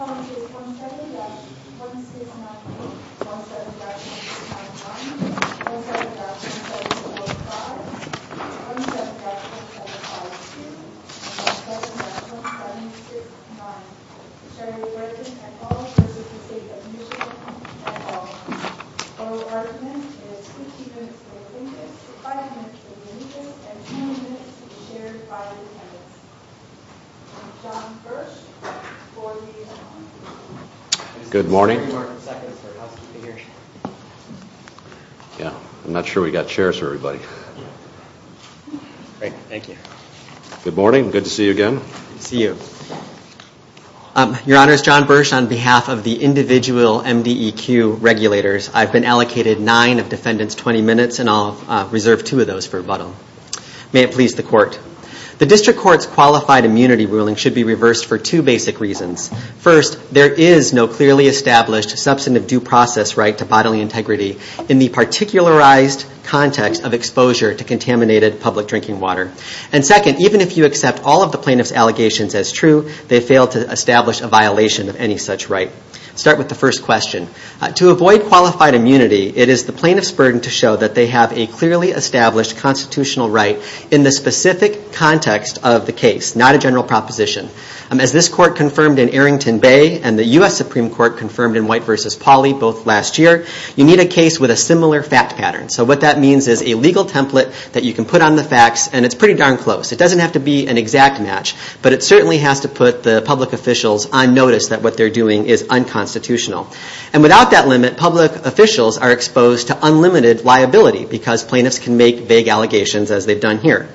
On April 27th, 2017, at 5 p.m., Shari Guertin and all of her students made a mutual appointment at Wal-Mart. Both Guertin and her two students were released, five minutes were deleted, and two minutes were shared via email. On behalf of the individual MDEQ regulators, I've been allocated nine of defendants' 20 minutes, and I'll reserve two of those for rebuttal. May it please the Court. The District Court's qualified immunity ruling should be reversed for two basic reasons. First, there is no clearly established substantive due process right to bodily integrity in the particularized context of exposure to contaminated public drinking water. And second, even if you accept all of the plaintiff's allegations as true, they fail to establish a violation of any such right. Let's start with the first question. To avoid qualified immunity, it is the plaintiff's burden to show that they have a clearly established constitutional right in the specific context of the case, not a general proposition. As this Court confirmed in Arrington Bay and the U.S. Supreme Court confirmed in White v. Pauley both last year, you need a case with a similar fact pattern. So what that means is a legal template that you can put on the facts, and it's pretty darn close. It doesn't have to be an exact match, but it certainly has to put the public officials on notice that what they're doing is unconstitutional. And without that limit, public officials are exposed to unlimited liability because plaintiffs can make vague allegations as they've done here.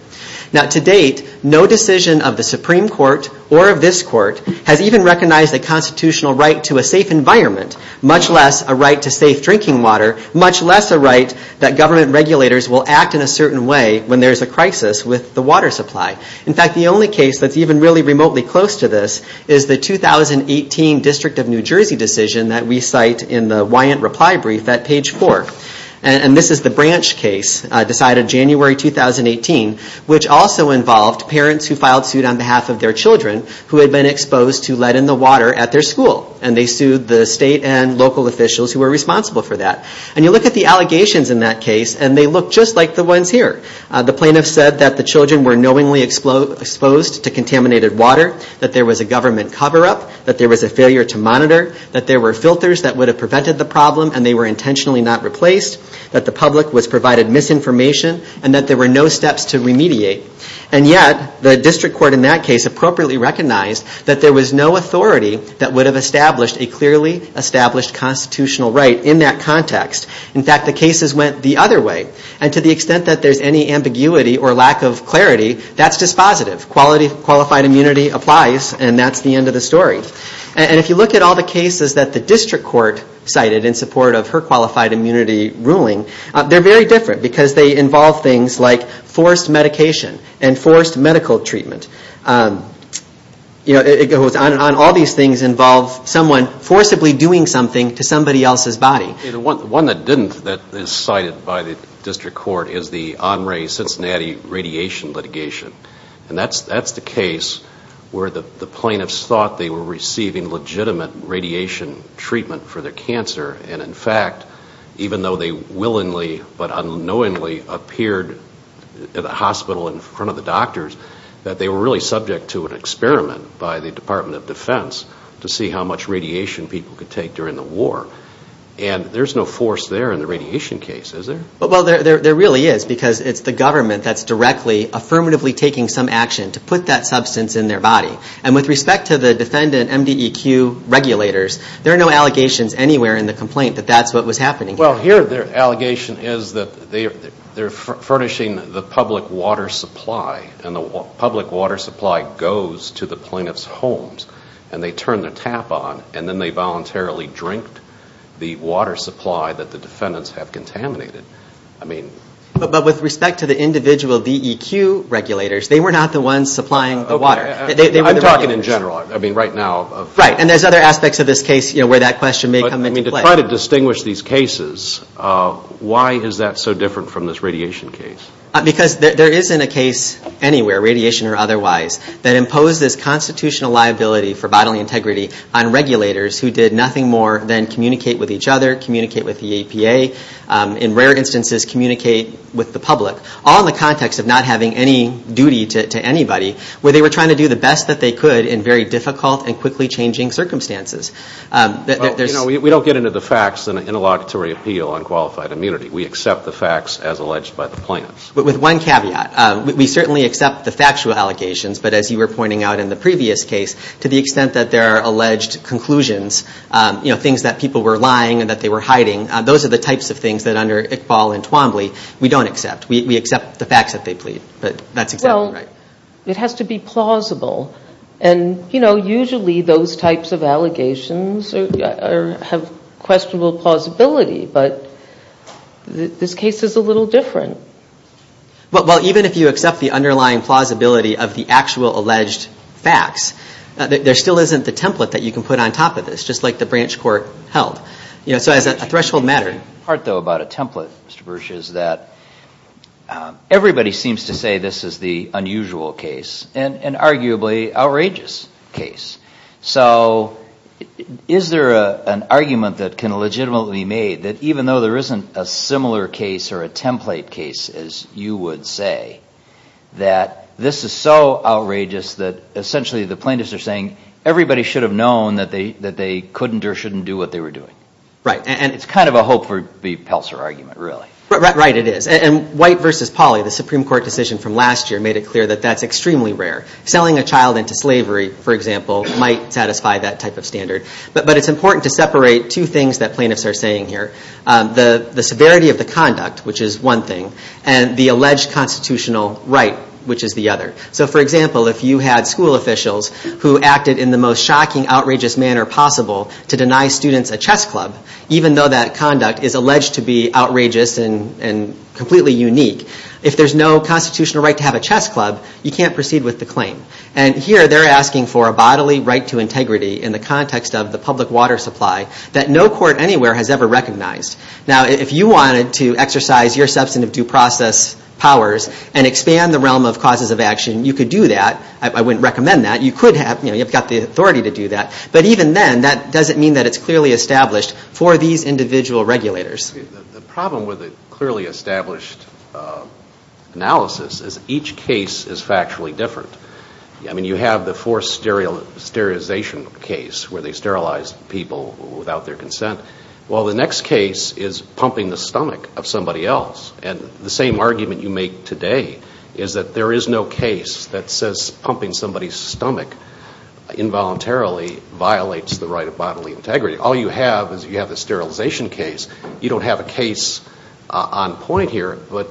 Now, to date, no decision of the Supreme Court or of this Court has even recognized a constitutional right to a safe environment, much less a right to safe drinking water, much less a right that government regulators will act in a certain way when there's a crisis with the water supply. In fact, the only case that's even really remotely close to this is the 2018 District of New Jersey decision that we cite in the Wyant Reply Brief at page 4. And this is the Branch case decided January 2018, which also involved parents who filed suit on behalf of their children who had been exposed to lead in the water at their school, and they sued the state and local officials who were responsible for that. And you look at the allegations in that case, and they look just like the ones here. The plaintiffs said that the children were knowingly exposed to contaminated water, that there was a government cover-up, that there was a failure to monitor, that there were filters that would have prevented the problem and they were intentionally not replaced, that the public was provided misinformation, and that there were no steps to remediate. And yet, the district court in that case appropriately recognized that there was no authority that would have established a clearly established constitutional right in that context. In fact, the cases went the other way. And to the extent that there's any ambiguity or lack of clarity, that's dispositive. Qualified immunity applies, and that's the end of the story. And if you look at all the cases that the district court cited in support of her qualified immunity ruling, they're very different because they involve things like forced medication and forced medical treatment. All these things involve someone forcibly doing something to somebody else's body. One that didn't, that is cited by the district court, is the Omri-Cincinnati radiation litigation. And that's the case where the plaintiffs thought they were receiving legitimate radiation treatment for their cancer, and in fact, even though they willingly but unknowingly appeared at the hospital in front of the doctors, that they were really subject to an experiment by the Department of Defense to see how much radiation people could take during the war. And there's no force there in the radiation case, is there? Well, there really is, because it's the government that's directly, affirmatively taking some action to put that substance in their body. And with respect to the defendant MDEQ regulators, there are no allegations anywhere in the complaint that that's what was happening. Well, here their allegation is that they're furnishing the public water supply, and the public water supply goes to the plaintiff's homes, and they turn the tap on, and then they voluntarily drink the water supply that the defendants have contaminated. But with respect to the individual DEQ regulators, they were not the ones supplying the water. I'm talking in general right now. Right, and there's other aspects of this case where that question may come into play. But to try to distinguish these cases, why is that so different from this radiation case? Because there isn't a case anywhere, radiation or otherwise, that imposes constitutional liability for bodily integrity on regulators who did nothing more than communicate with each other, communicate with the EPA, in rare instances communicate with the public, all in the context of not having any duty to anybody, where they were trying to do the best that they could in very difficult and quickly changing circumstances. We don't get into the facts in an interlocutory appeal on qualified immunity. We accept the facts as alleged by the plaintiffs. With one caveat, we certainly accept the factual allegations, but as you were pointing out in the previous case, to the extent that there are alleged conclusions, you know, things that people were lying and that they were hiding, those are the types of things that under Iqbal and Twombly, we don't accept. We accept the facts that they plead. Well, it has to be plausible. And, you know, usually those types of allegations have questionable plausibility, but this case is a little different. Well, even if you accept the underlying plausibility of the actual alleged facts, there still isn't the template that you can put on top of this, just like the branch court held. You know, so it's a threshold matter. The part, though, about a template, Mr. Burch, is that everybody seems to say this is the unusual case, and arguably outrageous case. So, is there an argument that can legitimately be made that even though there isn't a similar case or a template case, as you would say, that this is so outrageous that essentially the plaintiffs are saying everybody should have known that they couldn't or shouldn't do what they were doing? Right, and it's kind of a hope for the Pelser argument, really. Right, it is. And White v. Polly, the Supreme Court decision from last year, made it clear that that's extremely rare. Selling a child into slavery, for example, might satisfy that type of standard. But it's important to separate two things that plaintiffs are saying here. The severity of the conduct, which is one thing, and the alleged constitutional right, which is the other. So, for example, if you had school officials who acted in the most shocking, outrageous manner possible to deny students a chess club, even though that conduct is alleged to be outrageous and completely unique, if there's no constitutional right to have a chess club, you can't proceed with the claim. And here they're asking for a bodily right to integrity in the context of the public water supply that no court anywhere has ever recognized. Now, if you wanted to exercise your substantive due process powers and expand the realm of causes of action, you could do that. I wouldn't recommend that. You could have, you know, you've got the authority to do that. But even then, that doesn't mean that it's clearly established for these individual regulators. The problem with a clearly established analysis is each case is factually different. I mean, you have the forced sterilization case where they sterilized people without their consent. Well, the next case is pumping the stomach of somebody else. And the same argument you make today is that there is no case that says pumping somebody's stomach involuntarily violates the right of bodily integrity. All you have is you have a sterilization case. You don't have a case on point here, but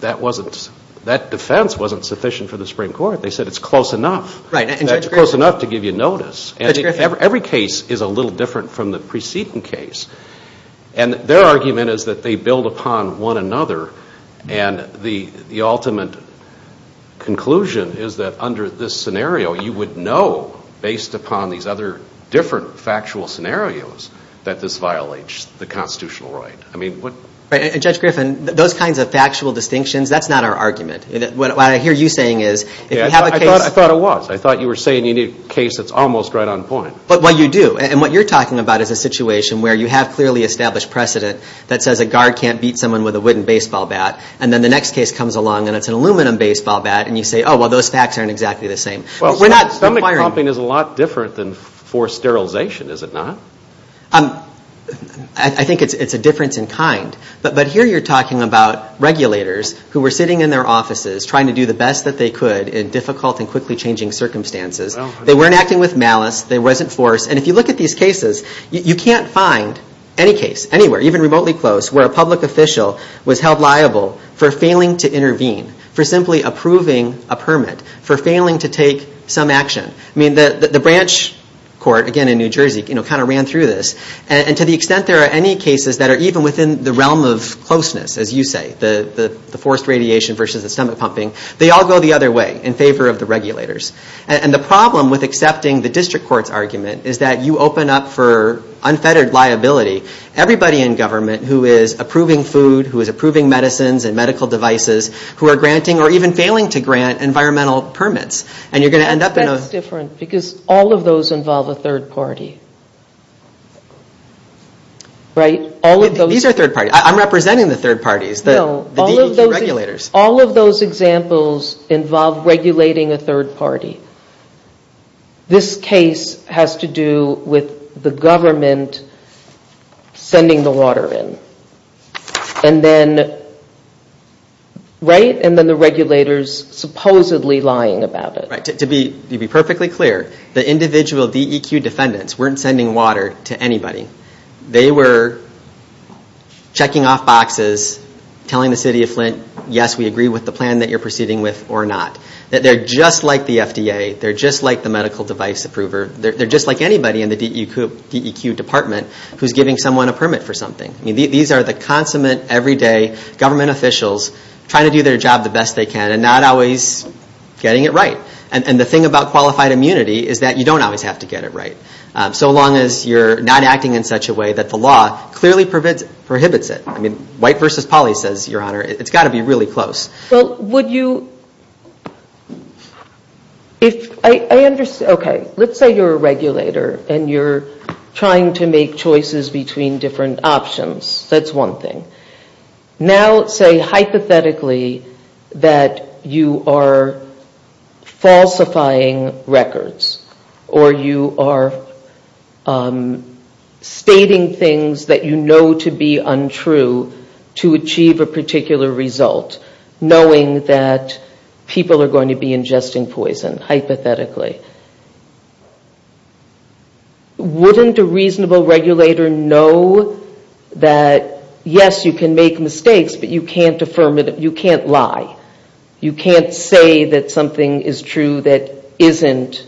that defense wasn't sufficient for the Supreme Court. They said it's close enough. It's close enough to give you notice. And every case is a little different from the preceding case. And their argument is that they build upon one another, and the ultimate conclusion is that under this scenario you would know, based upon these other different factual scenarios, that this violates the constitutional right. I mean, what... Right, and Judge Griffin, those kinds of factual distinctions, that's not our argument. What I hear you saying is... I thought it was. I thought you were saying you need a case that's almost right on point. Well, you do. And what you're talking about is a situation where you have clearly established precedent that says a guard can't beat someone with a wooden baseball bat, and then the next case comes along and it's an aluminum baseball bat, and you say, oh, well, those facts aren't exactly the same. Well, stomach pumping is a lot different than forced sterilization, is it not? I think it's a difference in kind. But here you're talking about regulators who were sitting in their offices trying to do the best that they could in difficult and quickly changing circumstances. They weren't acting with malice. They wasn't forced. And if you look at these cases, you can't find any case anywhere, even remotely close, where a public official was held liable for failing to intervene, for simply approving a permit, for failing to take some action. I mean, the branch court, again in New Jersey, kind of ran through this. And to the extent there are any cases that are even within the realm of closeness, as you say, the forced radiation versus the stomach pumping, they all go the other way in favor of the regulators. And the problem with accepting the district court's argument is that you open up for unfettered liability everybody in government who is approving food, who is approving medicines and medical devices, who are granting or even failing to grant environmental permits. That's different because all of those involve a third party. These are third parties. I'm representing the third parties. No, all of those examples involve regulating a third party. This case has to do with the government sending the water in. And then the regulators supposedly lying about it. To be perfectly clear, the individual DEQ defendants weren't sending water to anybody. They were checking off boxes, telling the city of Flint, yes, we agree with the plan that you're proceeding with or not. They're just like the FDA. They're just like the medical device approver. They're just like anybody in the DEQ department who's giving someone a permit for something. These are the consummate everyday government officials trying to do their job the best they can and not always getting it right. And the thing about qualified immunity is that you don't always have to get it right. So long as you're not acting in such a way that the law clearly prohibits it. White v. Polly says, Your Honor, it's got to be really close. Okay, let's say you're a regulator and you're trying to make choices between different options. That's one thing. Now say hypothetically that you are falsifying records or you are stating things that you know to be untrue to achieve a particular result, knowing that people are going to be ingesting poison, hypothetically. Wouldn't a reasonable regulator know that, yes, you can make mistakes, but you can't lie? You can't say that something is true that isn't,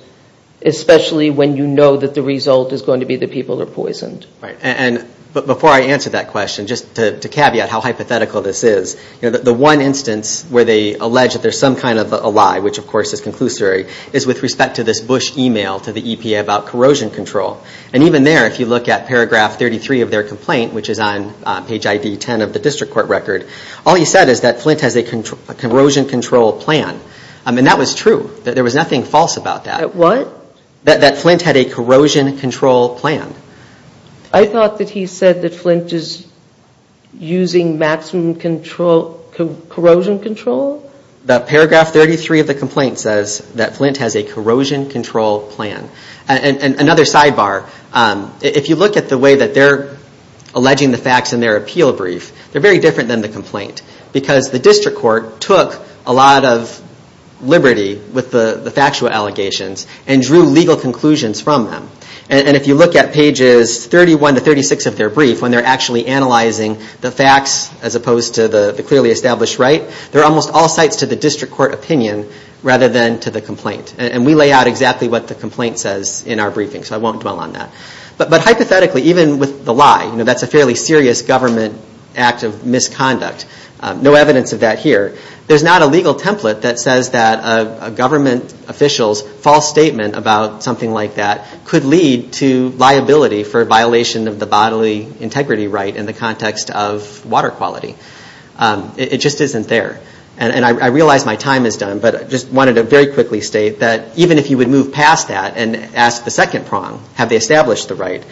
especially when you know that the result is going to be that people are poisoned. Right. And before I answer that question, just to caveat how hypothetical this is, the one instance where they allege that there's some kind of a lie, which of course is conclusory, is with respect to this Bush email to the EPA about corrosion control. And even there, if you look at paragraph 33 of their complaint, which is on page ID 10 of the district court record, all you said is that Flint has a corrosion control plan. And that was true. There was nothing false about that. What? That Flint had a corrosion control plan. I thought that he said that Flint is using maximum corrosion control? Paragraph 33 of the complaint says that Flint has a corrosion control plan. And another sidebar, if you look at the way that they're alleging the facts in their appeal brief, they're very different than the complaint. Because the district court took a lot of liberty with the factual allegations and drew legal conclusions from them. And if you look at pages 31 to 36 of their brief, when they're actually analyzing the facts as opposed to the clearly established right, they're almost all sites to the district court opinion rather than to the complaint. And we lay out exactly what the complaint says in our briefing, so I won't dwell on that. But hypothetically, even with the lie, that's a fairly serious government act of misconduct. No evidence of that here. There's not a legal template that says that a government official's false statement about something like that could lead to liability for violation of the bodily integrity right in the context of water quality. It just isn't there. And I realize my time is done, but I just wanted to very quickly state that even if you would move past that and ask the second prong, have they established the right,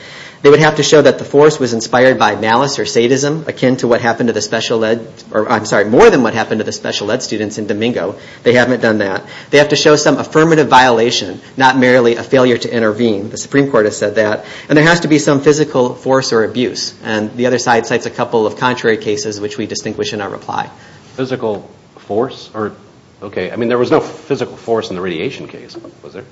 they would have to show that the force was inspired by malice or sadism akin to what happened to the special ed students in Domingo. They haven't done that. They have to show some affirmative violation, not merely a failure to intervene. The Supreme Court has said that. And there has to be some physical force or abuse. And the other side cites a couple of contrary cases which we distinguish in our reply. Physical force? Okay. I mean, there was no physical force in the radiation case, was there?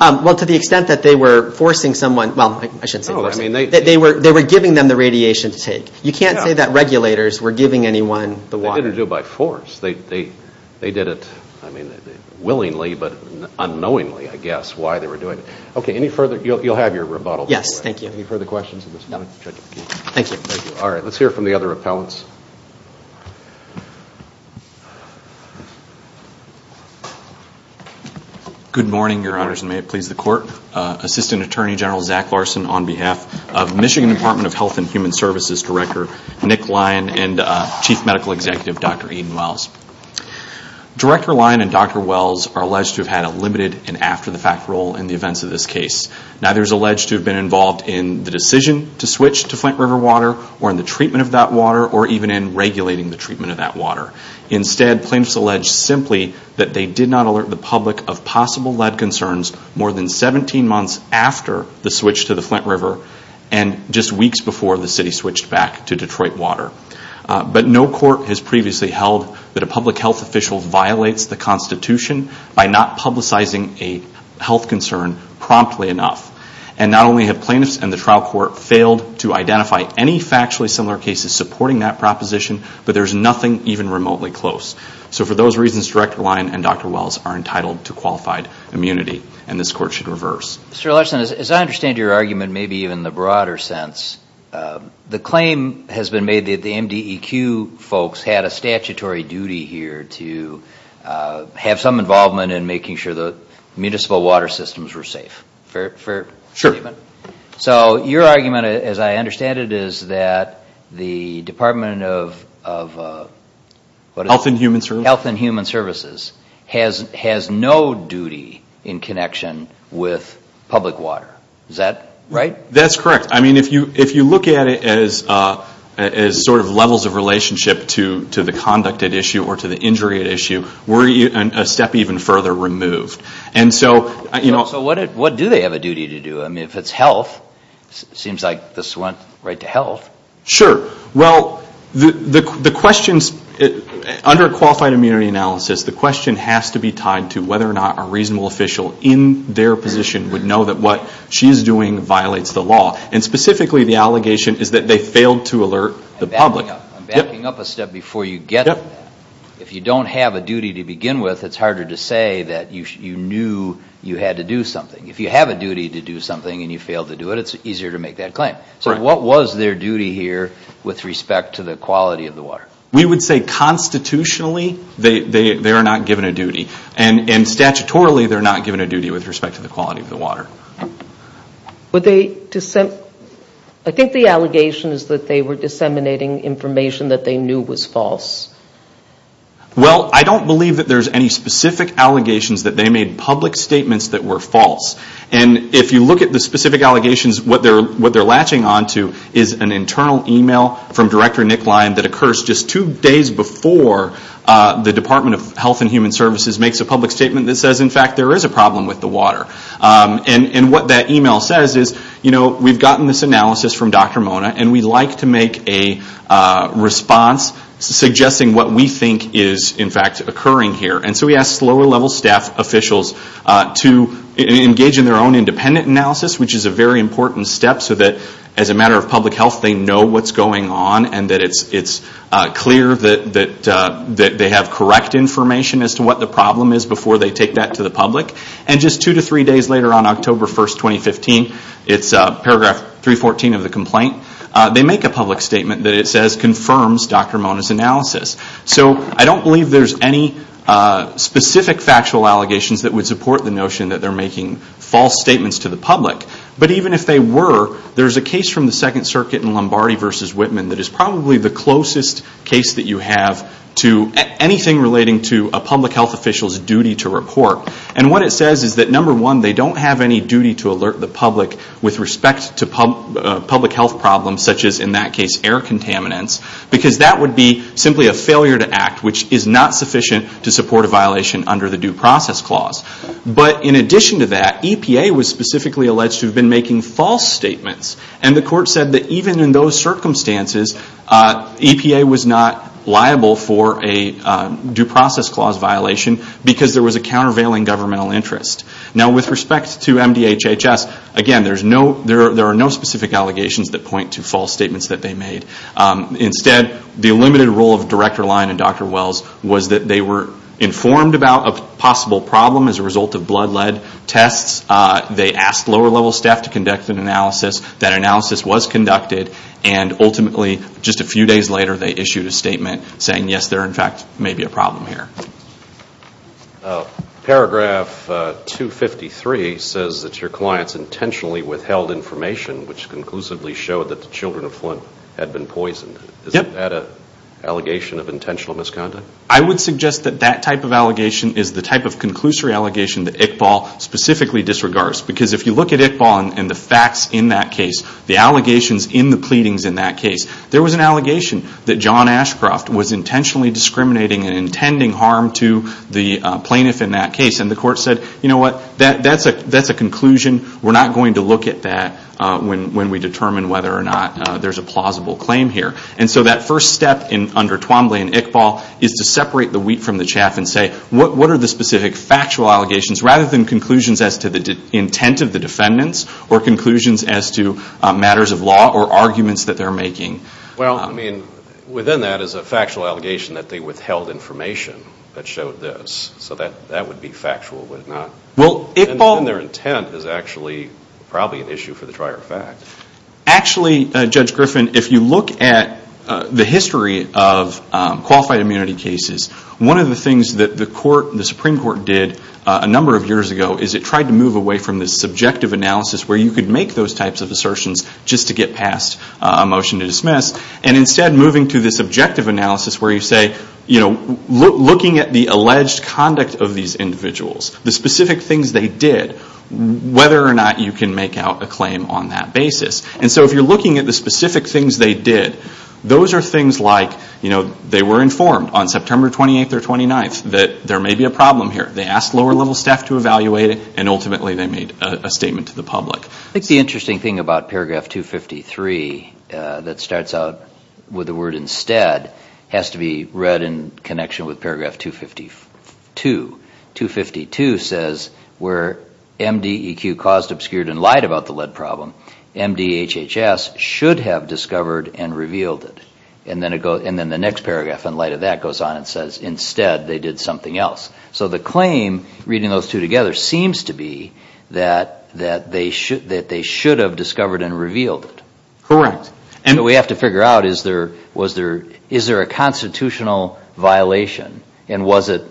Well, to the extent that they were forcing someone, well, I shouldn't say forcing. They were giving them the radiation take. You can't say that regulators were giving anyone the wire. They didn't do it by force. They did it, I mean, willingly but unknowingly, I guess, why they were doing it. Okay. Any further? You'll have your rebuttal. Yes. Thank you. Any further questions? No. Thank you, Mr. Othellos. Good morning, Your Honors, and may it please the Court. Assistant Attorney General Zach Larson on behalf of Michigan Department of Health and Human Services Director Nick Lyon and Chief Medical Executive Dr. Eden Wells. Director Lyon and Dr. Wells are alleged to have had a limited and after-the-fact role in the events of this case. Neither is alleged to have been involved in the decision to switch to Flint River water or in the treatment of that water or even in regulating the treatment of that water. Instead, plaintiffs allege simply that they did not alert the public of possible lead concerns more than 17 months after the switch to the Flint River and just weeks before the city switched back to Detroit water. But no court has previously held that a public health official violates the Constitution by not publicizing a health concern promptly enough. And not only have plaintiffs and the trial court failed to identify any factually similar cases supporting that proposition, but there is nothing even remotely close. So for those reasons, Director Lyon and Dr. Wells are entitled to qualified immunity and this Court should reverse. Mr. Larson, as I understand your argument, maybe even in the broader sense, the claim has been made that the MDEQ folks had a statutory duty here to have some involvement in making sure the municipal water systems were safe. Fair? Sure. So your argument, as I understand it, is that the Department of... Health and Human Services. Health and Human Services has no duty in connection with public water. Is that right? That's correct. I mean, if you look at it as sort of levels of relationship to the conduct at issue or to the injury at issue, we're a step even further removed. So what do they have a duty to do? I mean, if it's health, it seems like the slant right to health. Sure. Well, under qualified immunity analysis, the question has to be tied to whether or not a reasonable official in their position would know that what she's doing violates the law. And specifically, the allegation is that they failed to alert the public. I'm backing up a step before you get it. If you don't have a duty to begin with, it's harder to say that you knew you had to do something. If you have a duty to do something and you failed to do it, it's easier to make that claim. So what was their duty here with respect to the quality of the water? We would say constitutionally, they are not given a duty. And statutorily, they're not given a duty with respect to the quality of the water. Would they dissent? I think the allegation is that they were disseminating information that they knew was false. Well, I don't believe that there's any specific allegations that they made public statements that were false. And if you look at the specific allegations, what they're latching onto is an internal email from Director Nick Lyon that occurs just two days before the Department of Health and Human Services makes a public statement that says, in fact, there is a problem with the water. And what that email says is, you know, we've gotten this analysis from Dr. Mona, and we'd like to make a response suggesting what we think is, in fact, occurring here. And so we asked lower-level staff officials to engage in their own independent analysis, which is a very important step so that as a matter of public health, they know what's going on and that it's clear that they have correct information as to what the problem is before they take that to the public. And just two to three days later on October 1, 2015, it's paragraph 314 of the complaint, they make a public statement that it says confirms Dr. Mona's analysis. So I don't believe there's any specific factual allegations that would support the notion that they're making false statements to the public. But even if they were, there's a case from the Second Circuit in Lombardi v. Whitman that is probably the closest case that you have to anything relating to a public health official's duty to report. And what it says is that, number one, they don't have any duty to alert the public with respect to public health problems, such as, in that case, air contaminants, because that would be simply a failure to act, which is not sufficient to support a violation under the Due Process Clause. But in addition to that, EPA was specifically alleged to have been making false statements, and the court said that even in those circumstances, EPA was not liable for a Due Process Clause violation because there was a countervailing governmental interest. Now, with respect to MDHHS, again, there are no specific allegations that point to false statements that they made. Instead, the limited role of Director Lyon and Dr. Wells was that they were informed about a possible problem as a result of blood lead tests. They asked lower-level staff to conduct an analysis. That analysis was conducted, and ultimately, just a few days later, they issued a statement saying, yes, there, in fact, may be a problem here. Paragraph 253 says that your clients intentionally withheld information which conclusively showed that the children of Flint had been poisoned. Is that an allegation of intentional misconduct? I would suggest that that type of allegation is the type of conclusory allegation that ICFAL specifically disregards, because if you look at ICFAL and the facts in that case, the allegations in the pleadings in that case, there was an allegation that John Ashcroft was intentionally discriminating and intending harm to the plaintiff in that case. And the court said, you know what, that's a conclusion. We're not going to look at that when we determine whether or not there's a plausible claim here. And so that first step under Twombly and ICFAL is to separate the wheat from the chaff and say what are the specific factual allegations rather than conclusions as to the intent of the defendants or conclusions as to matters of law or arguments that they're making. Well, I mean, within that is a factual allegation that they withheld information that showed this. So that would be factual. Well, if all their intent is actually probably an issue for the prior facts. Actually, Judge Griffin, if you look at the history of qualified immunity cases, one of the things that the Supreme Court did a number of years ago is it tried to move away from the subjective analysis where you could make those types of assertions just to get past a motion to dismiss and instead moving to the subjective analysis where you say, you know, looking at the alleged conduct of these individuals, the specific things they did, whether or not you can make out a claim on that basis. And so if you're looking at the specific things they did, those are things like, you know, they were informed on September 28th or 29th that there may be a problem here. They asked lower-level staff to evaluate it, and ultimately they made a statement to the public. I think the interesting thing about paragraph 253 that starts out with the word instead has to be read in connection with paragraph 252. 252 says where MDEQ caused, obscured, and lied about the lead problem, MDHHS should have discovered and revealed it. And then the next paragraph in light of that goes on and says instead they did something else. So the claim, reading those two together, seems to be that they should have discovered and revealed it. Correct. And we have to figure out is there a constitutional violation, and was it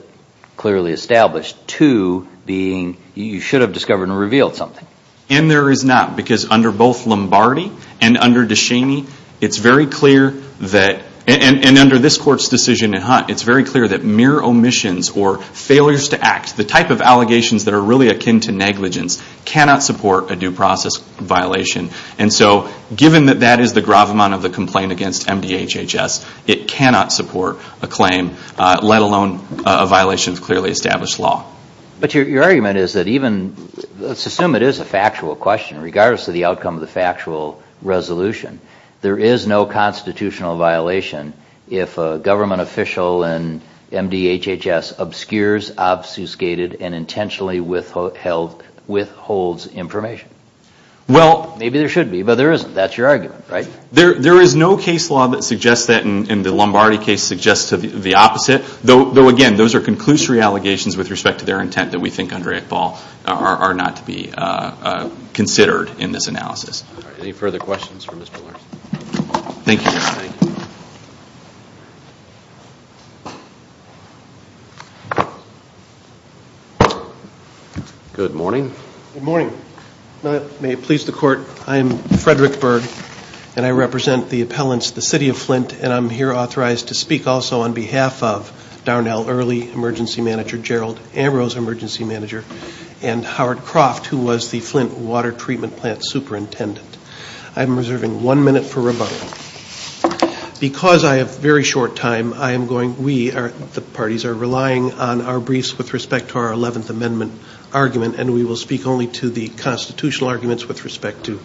clearly established to being you should have discovered and revealed something. And there is not, because under both Lombardi and under DeShaney, it's very clear that, and under this court's decision in Hunt, it's very clear that mere omissions or failures to act, the type of allegations that are really akin to negligence, cannot support a due process violation. And so given that that is the gravamonte of the complaint against MDHHS, it cannot support a claim, let alone a violation of clearly established law. But your argument is that even, let's assume it is a factual question, regardless of the outcome of the factual resolution, there is no constitutional violation if a government official in MDHHS obscures, obfuscated, and intentionally withholds information. Well, maybe there should be, but there isn't. That's your argument, right? There is no case law that suggests that, and the Lombardi case suggests the opposite. Though again, those are conclusory allegations with respect to their intent that we think under Iqbal are not to be considered in this analysis. Any further questions for Mr. Lerner? Thank you. Good morning. Good morning. May it please the court, I am Frederick Berg, and I represent the appellants of the City of Flint, and I'm here authorized to speak also on behalf of Darnell Early Emergency Manager, Gerald Ambrose Emergency Manager, and Howard Croft, who was the Flint Water Treatment Plant Superintendent. I'm reserving one minute for rebuttal. Because I have very short time, the parties are relying on our briefs with respect to our Eleventh Amendment argument, and we will speak only to the constitutional arguments with respect to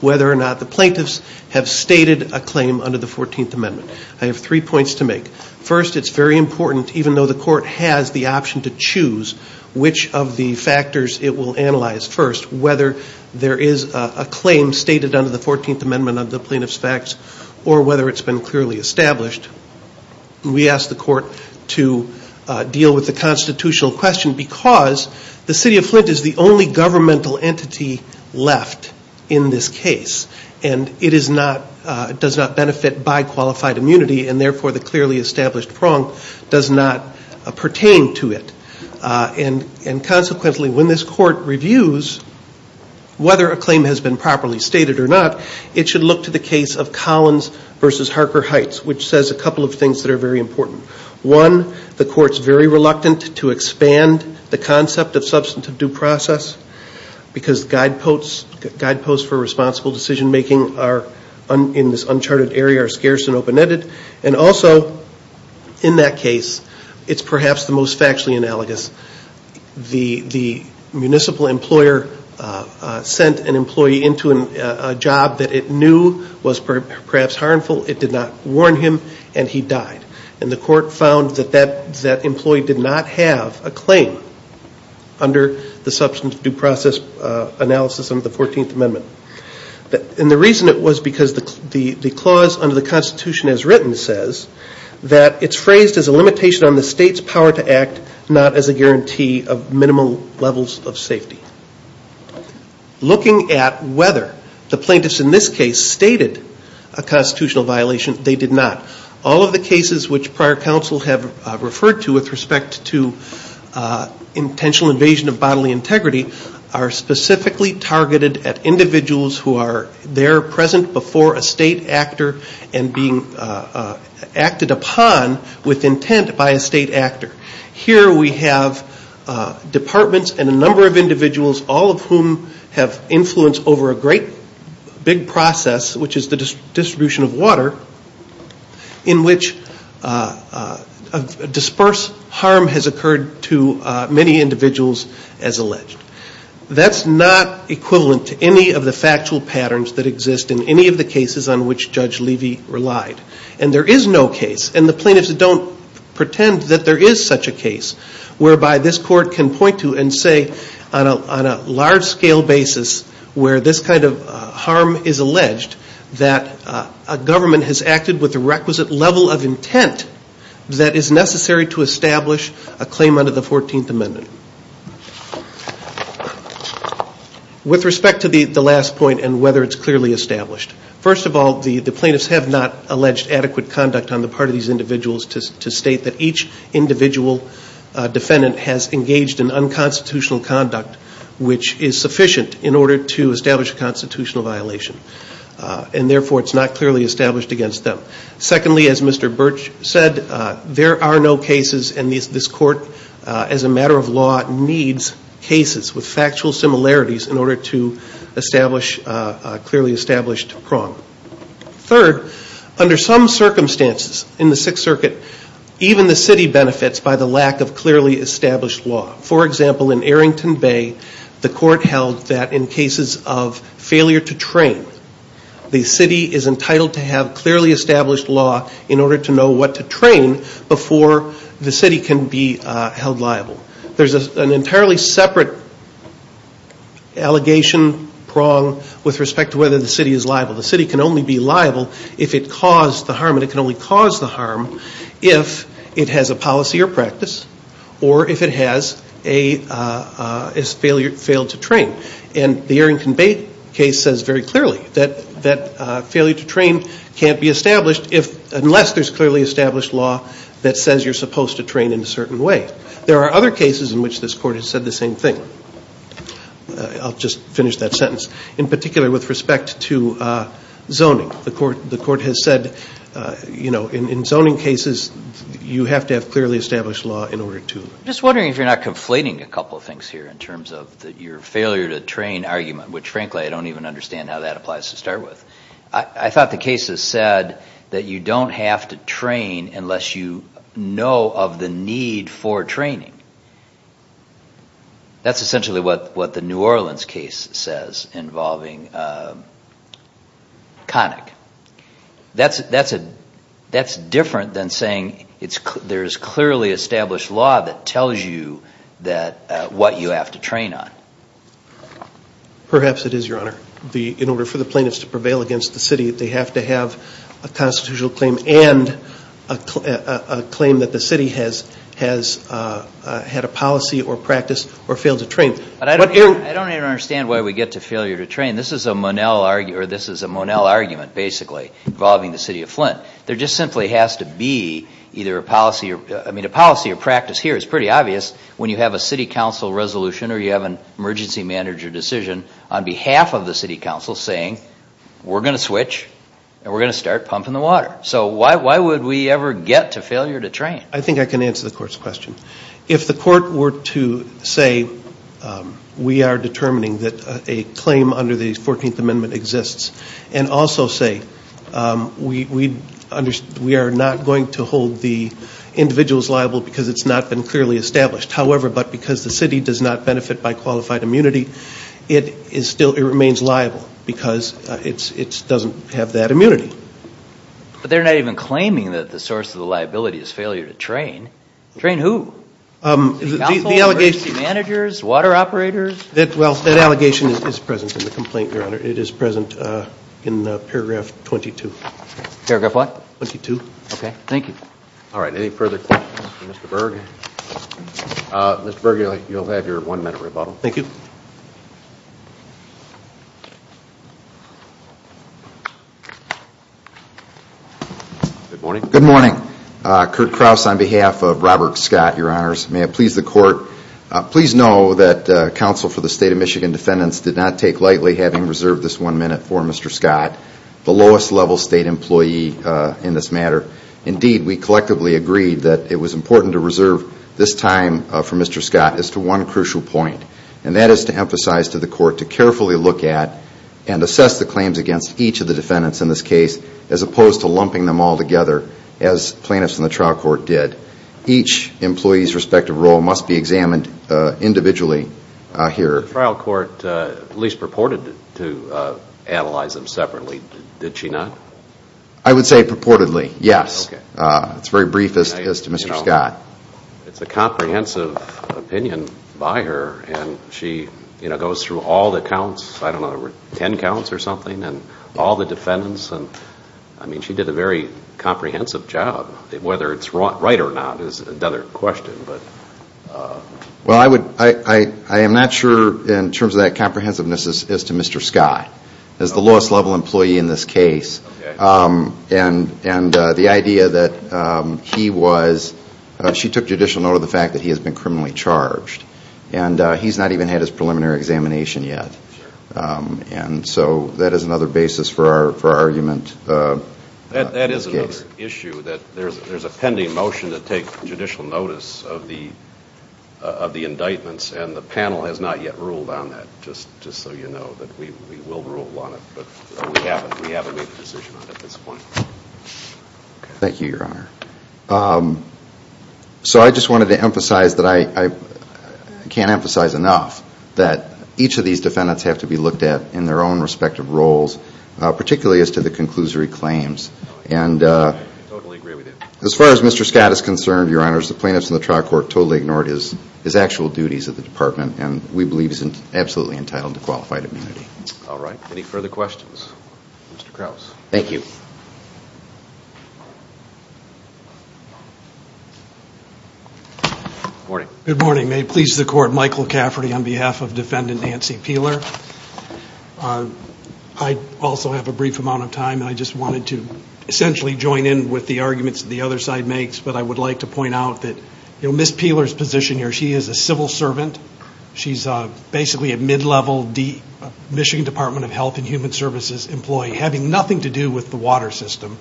whether or not the plaintiffs have stated a claim under the Fourteenth Amendment. I have three points to make. First, it's very important, even though the court has the option to choose, which of the factors it will analyze first, whether there is a claim stated under the Fourteenth Amendment of the Plaintiff's Facts or whether it's been clearly established. We ask the court to deal with the constitutional question because the City of Flint is the only governmental entity left in this case, and it does not benefit by qualified immunity, and therefore the clearly established prong does not pertain to it. Consequently, when this court reviews whether a claim has been properly stated or not, it should look to the case of Collins v. Harker Heights, which says a couple of things that are very important. One, the court is very reluctant to expand the concept of substantive due process because guideposts for responsible decision-making in this uncharted area are scarce and open-ended. Also, in that case, it's perhaps the most factually analogous. The municipal employer sent an employee into a job that it knew was perhaps harmful. It did not warn him, and he died. The court found that that employee did not have a claim under the substantive due process analysis under the Fourteenth Amendment. The reason it was because the clause under the Constitution as written says that it's phrased as a limitation on the state's power to act, not as a guarantee of minimal levels of safety. Looking at whether the plaintiffs in this case stated a constitutional violation, they did not. All of the cases which prior counsels have referred to with respect to intentional invasion of bodily integrity are specifically targeted at individuals who are there present before a state actor and being acted upon with intent by a state actor. Here we have departments and a number of individuals, all of whom have influence over a great big process, which is the distribution of water, in which a dispersed harm has occurred to many individuals as alleged. That's not equivalent to any of the factual patterns that exist in any of the cases on which Judge Levy relied. There is no case, and the plaintiffs don't pretend that there is such a case, whereby this court can point to and say on a large-scale basis where this kind of harm is alleged, that a government has acted with a requisite level of intent that is necessary to establish a claim under the 14th Amendment. With respect to the last point and whether it's clearly established, first of all, the plaintiffs have not alleged adequate conduct on the part of these individuals to state that each individual defendant has engaged in unconstitutional conduct which is sufficient in order to establish a constitutional violation, and therefore it's not clearly established against them. Secondly, as Mr. Birch said, there are no cases, and this court, as a matter of law, needs cases with factual similarities in order to establish a clearly established prong. Third, under some circumstances in the Sixth Circuit, even the city benefits by the lack of clearly established law. For example, in Arrington Bay, the court held that in cases of failure to train, the city is entitled to have clearly established law in order to know what to train before the city can be held liable. There's an entirely separate allegation prong with respect to whether the city is liable. The city can only be liable if it caused the harm, and it can only cause the harm if it has a policy or practice or if it has failed to train. And the Arrington Bay case says very clearly that failure to train can't be established unless there's clearly established law that says you're supposed to train in a certain way. There are other cases in which this court has said the same thing. I'll just finish that sentence. In particular, with respect to zoning, the court has said, in zoning cases, you have to have clearly established law in order to... I'm just wondering if you're not conflating a couple of things here in terms of your failure to train argument, which frankly I don't even understand how that applies to start with. I thought the case that said that you don't have to train unless you know of the need for training. That's essentially what the New Orleans case says involving Connick. That's different than saying there's clearly established law that tells you what you have to train on. Perhaps it is, Your Honor. In order for the plaintiffs to prevail against the city, they have to have a constitutional claim and a claim that the city has had a policy or practice or failed to train. I don't even understand why we get to failure to train. This is a Monell argument basically involving the city of Flint. There just simply has to be either a policy or practice here. It's pretty obvious when you have a city council resolution or you have an emergency manager decision on behalf of the city council saying we're going to switch and we're going to start pumping the water. Why would we ever get to failure to train? I think I can answer the court's question. If the court were to say we are determining that a claim under the 14th Amendment exists and also say we are not going to hold the individuals liable because it's not been clearly established. However, but because the city does not benefit by qualified immunity, it remains liable because it doesn't have that immunity. But they're not even claiming that the source of the liability is failure to train. Train who? The allegations. Managers? Water operators? That allegation is present in the complaint, Your Honor. It is present in paragraph 22. Paragraph what? 22. Okay, thank you. All right, any further questions for Mr. Berg? Mr. Berg, you'll have your one minute rebuttal. Thank you. Good morning. Good morning. Kurt Krause on behalf of Robert Scott, Your Honors. May I please the court, please know that counsel for the State of Michigan defendants did not take lightly having reserved this one minute for Mr. Scott, the lowest level state employee in this matter. Indeed, we collectively agreed that it was important to reserve this time for Mr. Scott as to one crucial point. And that is to emphasize to the court to carefully look at and assess the claims against each of the defendants in this case as opposed to lumping them all together as plaintiffs in the trial court did. Each employee's respective role must be examined individually here. The trial court at least purported to analyze them separately, did she not? I would say purportedly, yes. It's very brief as to Mr. Scott. It's a comprehensive opinion by her, and she goes through all the counts, I don't know, 10 counts or something, and all the defendants. I mean, she did a very comprehensive job. Whether it's right or not is another question. Well, I am not sure in terms of that comprehensiveness as to Mr. Scott, the lowest level employee in this case, and the idea that he was, she took judicial note of the fact that he has been criminally charged. And he's not even had his preliminary examination yet. And so that is another basis for our argument. That is another issue that there's a pending motion to take judicial notice of the indictments, and the panel has not yet ruled on that, just so you know that we will rule on it. But we haven't made a decision on it at this point. Thank you, Your Honor. So I just wanted to emphasize, but I can't emphasize enough, that each of these defendants have to be looked at in their own respective roles, particularly as to the conclusory claims. I totally agree with you. As far as Mr. Scott is concerned, Your Honors, the plaintiffs and the trial court totally ignored his actual duties at the department, and we believe he's absolutely entitled to qualified immunity. All right. Any further questions? Mr. Krauss. Thank you. Good morning. Good morning. May it please the Court, Michael Cafferty on behalf of Defendant Nancy Peeler. I also have a brief amount of time, and I just wanted to essentially join in with the arguments that the other side makes, but I would like to point out that Ms. Peeler's position here, she is a civil servant. She's basically a mid-level Michigan Department of Health and Human Services employee, having nothing to do with the water system.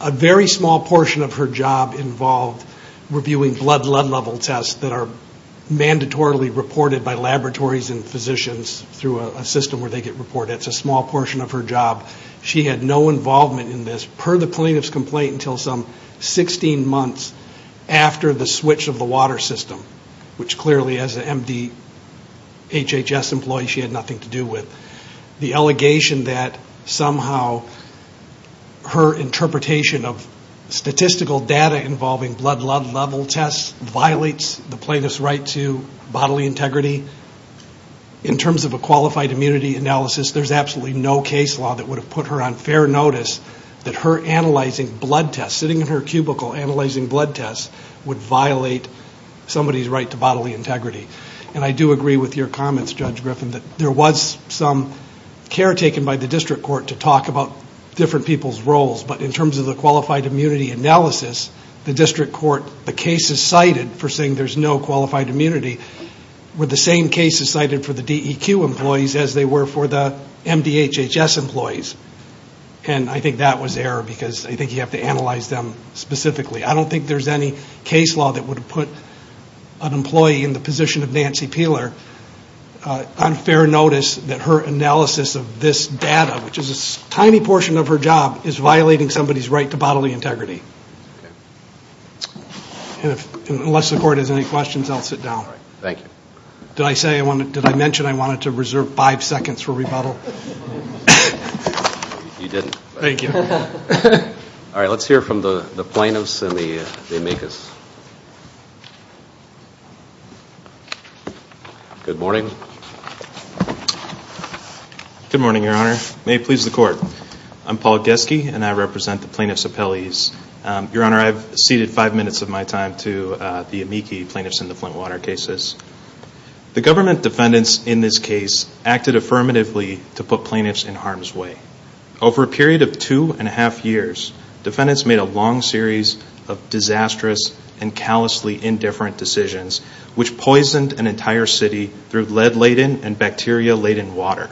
A very small portion of her job involved reviewing blood level tests that are mandatorily reported by laboratories and physicians through a system where they get reported. It's a small portion of her job. She had no involvement in this, per the plaintiff's complaint, until some 16 months after the switch of the water system, which clearly, as an MDHHS employee, she had nothing to do with. The allegation that somehow her interpretation of statistical data involving blood level tests violates the plaintiff's right to bodily integrity, in terms of a qualified immunity analysis, there's absolutely no case law that would have put her on fair notice that her analyzing blood tests, sitting in her cubicle analyzing blood tests, would violate somebody's right to bodily integrity. I do agree with your comments, Judge Griffin, that there was some care taken by the district court to talk about different people's roles, but in terms of the qualified immunity analysis, the district court, the cases cited for saying there's no qualified immunity, were the same cases cited for the DEQ employees as they were for the MDHHS employees. I think that was error, because I think you have to analyze them specifically. I don't think there's any case law that would have put an employee in the position of Nancy Peeler on fair notice that her analysis of this data, which is a tiny portion of her job, is violating somebody's right to bodily integrity. Unless the court has any questions, I'll sit down. Thank you. Did I mention I wanted to reserve five seconds for rebuttal? You didn't. Thank you. All right, let's hear from the plaintiffs and the amicus. Good morning. Good morning, Your Honor. May it please the court. I'm Paul Geske, and I represent the plaintiffs' appellees. Your Honor, I've ceded five minutes of my time to the amici plaintiffs in the Flint water cases. The government defendants in this case acted affirmatively to put plaintiffs in harm's way. Over a period of two and a half years, defendants made a long series of disastrous and callously indifferent decisions, which poisoned an entire city through lead-laden and bacteria-laden water.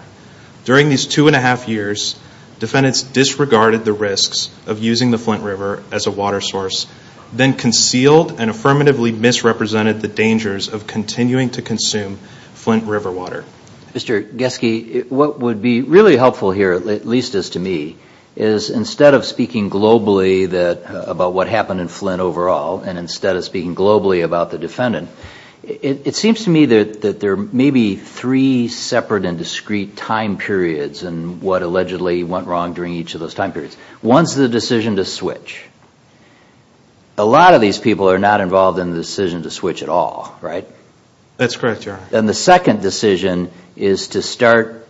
During these two and a half years, defendants disregarded the risks of using the Flint River as a water source, then concealed and affirmatively misrepresented the dangers of continuing to consume Flint River water. Mr. Geske, what would be really helpful here, at least as to me, is instead of speaking globally about what happened in Flint overall and instead of speaking globally about the defendant, it seems to me that there may be three separate and discrete time periods in what allegedly went wrong during each of those time periods. One is the decision to switch. A lot of these people are not involved in the decision to switch at all, right? That's correct, Your Honor. Then the second decision is to start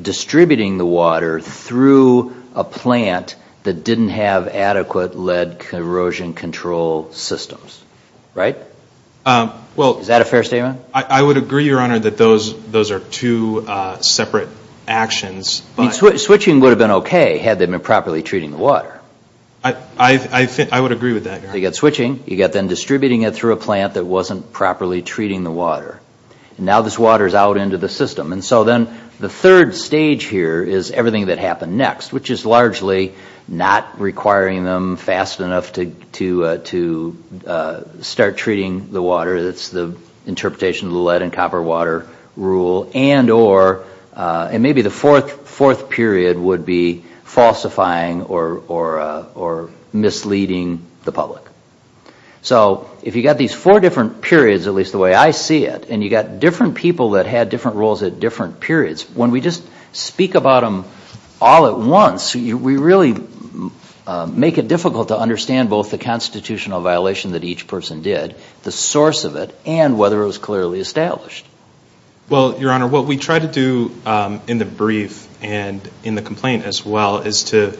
distributing the water through a plant that didn't have adequate lead corrosion control systems, right? Is that a fair statement? I would agree, Your Honor, that those are two separate actions. Switching would have been okay had they been properly treating the water. I would agree with that, Your Honor. You got switching, you got then distributing it through a plant that wasn't properly treating the water. Now this water is out into the system. So then the third stage here is everything that happened next, which is largely not requiring them fast enough to start treating the water. It's the interpretation of the lead and copper water rule, and maybe the fourth period would be falsifying or misleading the public. So if you've got these four different periods, at least the way I see it, and you've got different people that had different rules at different periods, when we just speak about them all at once, we really make it difficult to understand both the constitutional violation that each person did, the source of it, and whether it was clearly established. Well, Your Honor, what we try to do in the brief and in the complaint as well is to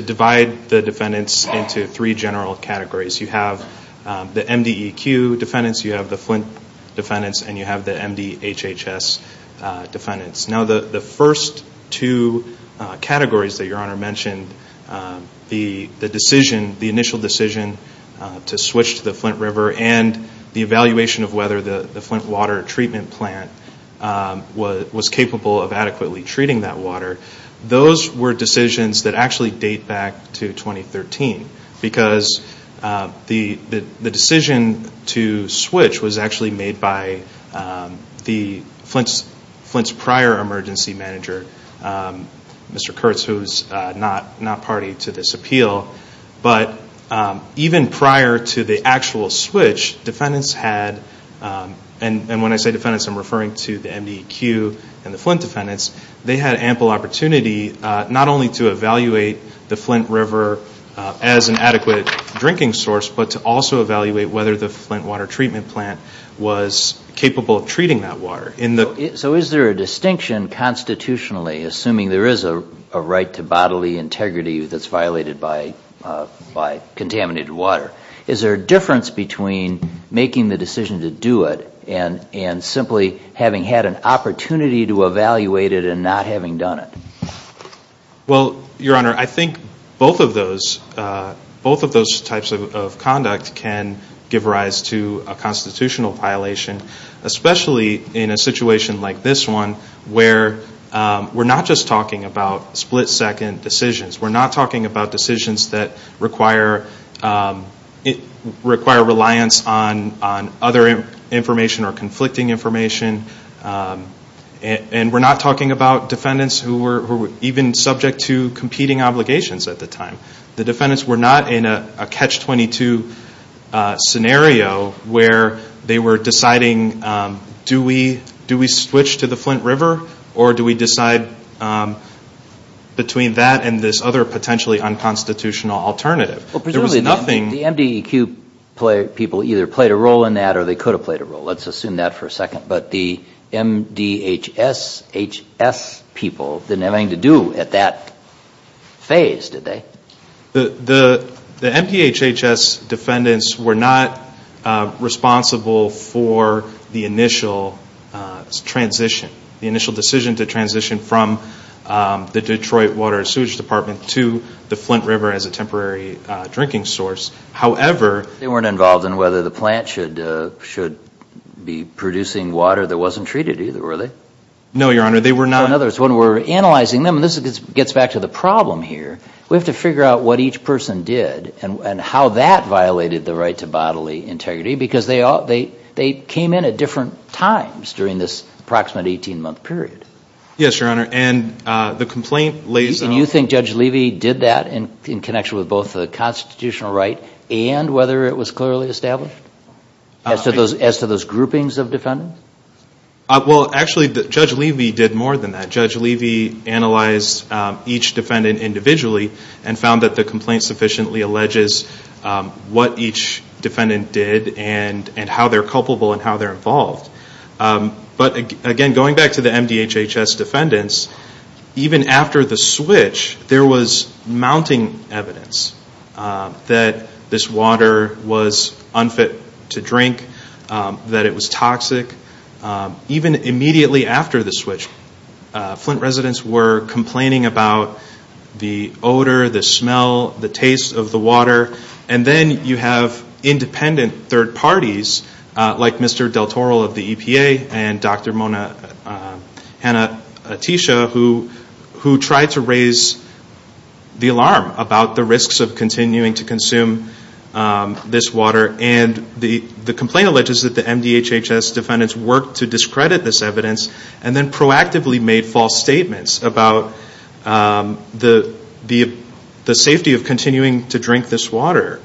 divide the defendants into three general categories. You have the MDEQ defendants, you have the Flint defendants, and you have the MDHHS defendants. Now the first two categories that Your Honor mentioned, the initial decision to switch to the Flint River and the evaluation of whether the Flint water treatment plant was capable of adequately treating that water, those were decisions that actually date back to 2013 because the decision to switch was actually made by Flint's prior emergency manager, Mr. Kurtz, who is not party to this appeal. But even prior to the actual switch, defendants had, and when I say defendants I'm referring to the MDEQ and the Flint defendants, they had ample opportunity not only to evaluate the Flint River as an adequate drinking source, but to also evaluate whether the Flint water treatment plant was capable of treating that water. So is there a distinction constitutionally, assuming there is a right to bodily integrity that's violated by contaminated water, is there a difference between making the decision to do it and simply having had an opportunity to evaluate it and not having done it? Well, Your Honor, I think both of those types of conduct can give rise to a constitutional violation, especially in a situation like this one where we're not just talking about split-second decisions. We're not talking about decisions that require reliance on other information or conflicting information, and we're not talking about defendants who were even subject to competing obligations at the time. The defendants were not in a catch-22 scenario where they were deciding, do we switch to the Flint River or do we decide between that and this other potentially unconstitutional alternative? Presumably the MDEQ people either played a role in that or they could have played a role. Let's assume that for a second. But the MDHSHS people didn't have anything to do at that phase, did they? The MDHHS defendants were not responsible for the initial transition, the initial decision to transition from the Detroit Water Sewage Department to the Flint River as a temporary drinking source. They weren't involved in whether the plant should be producing water that wasn't treated either, were they? No, Your Honor. In other words, when we're analyzing them, this gets back to the problem here. We have to figure out what each person did and how that violated the right to bodily integrity because they came in at different times during this approximate 18-month period. Yes, Your Honor, and the complaint lays on... Do you think Judge Levy did that in connection with both the constitutional right and whether it was clearly established as to those groupings of defendants? Well, actually, Judge Levy did more than that. Judge Levy analyzed each defendant individually and found that the complaint sufficiently alleges what each defendant did and how they're culpable and how they're involved. But again, going back to the MDHHS defendants, even after the switch, there was mounting evidence that this water was unfit to drink, that it was toxic. Even immediately after the switch, Flint residents were complaining about the odor, the smell, the taste of the water. And then you have independent third parties like Mr. Del Toro of the EPA and Dr. Mona Hanna-Attisha who tried to raise the alarm about the risks of continuing to consume this water. And the complaint alleges that the MDHHS defendants worked to discredit this evidence and then proactively made false statements about the safety of continuing to drink this water.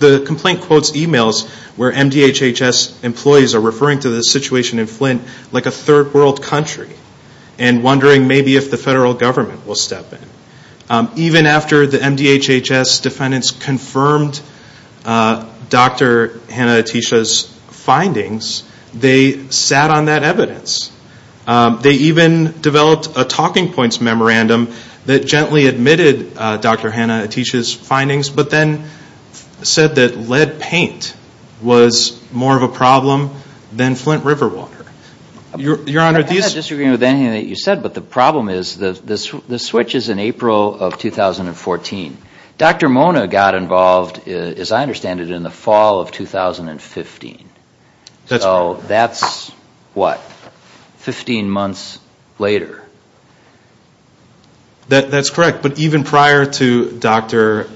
The complaint quotes emails where MDHHS employees are referring to the situation in Flint like a third world country and wondering maybe if the federal government will step in. Even after the MDHHS defendants confirmed Dr. Hanna-Attisha's findings, they sat on that evidence. They even developed a talking points memorandum that gently admitted Dr. Hanna-Attisha's findings but then said that lead paint was more of a problem than Flint River water. I'm not disagreeing with anything that you said, but the problem is the switch is in April of 2014. Dr. Mona got involved, as I understand it, in the fall of 2015. So that's what, 15 months later? That's correct, but even prior to Dr.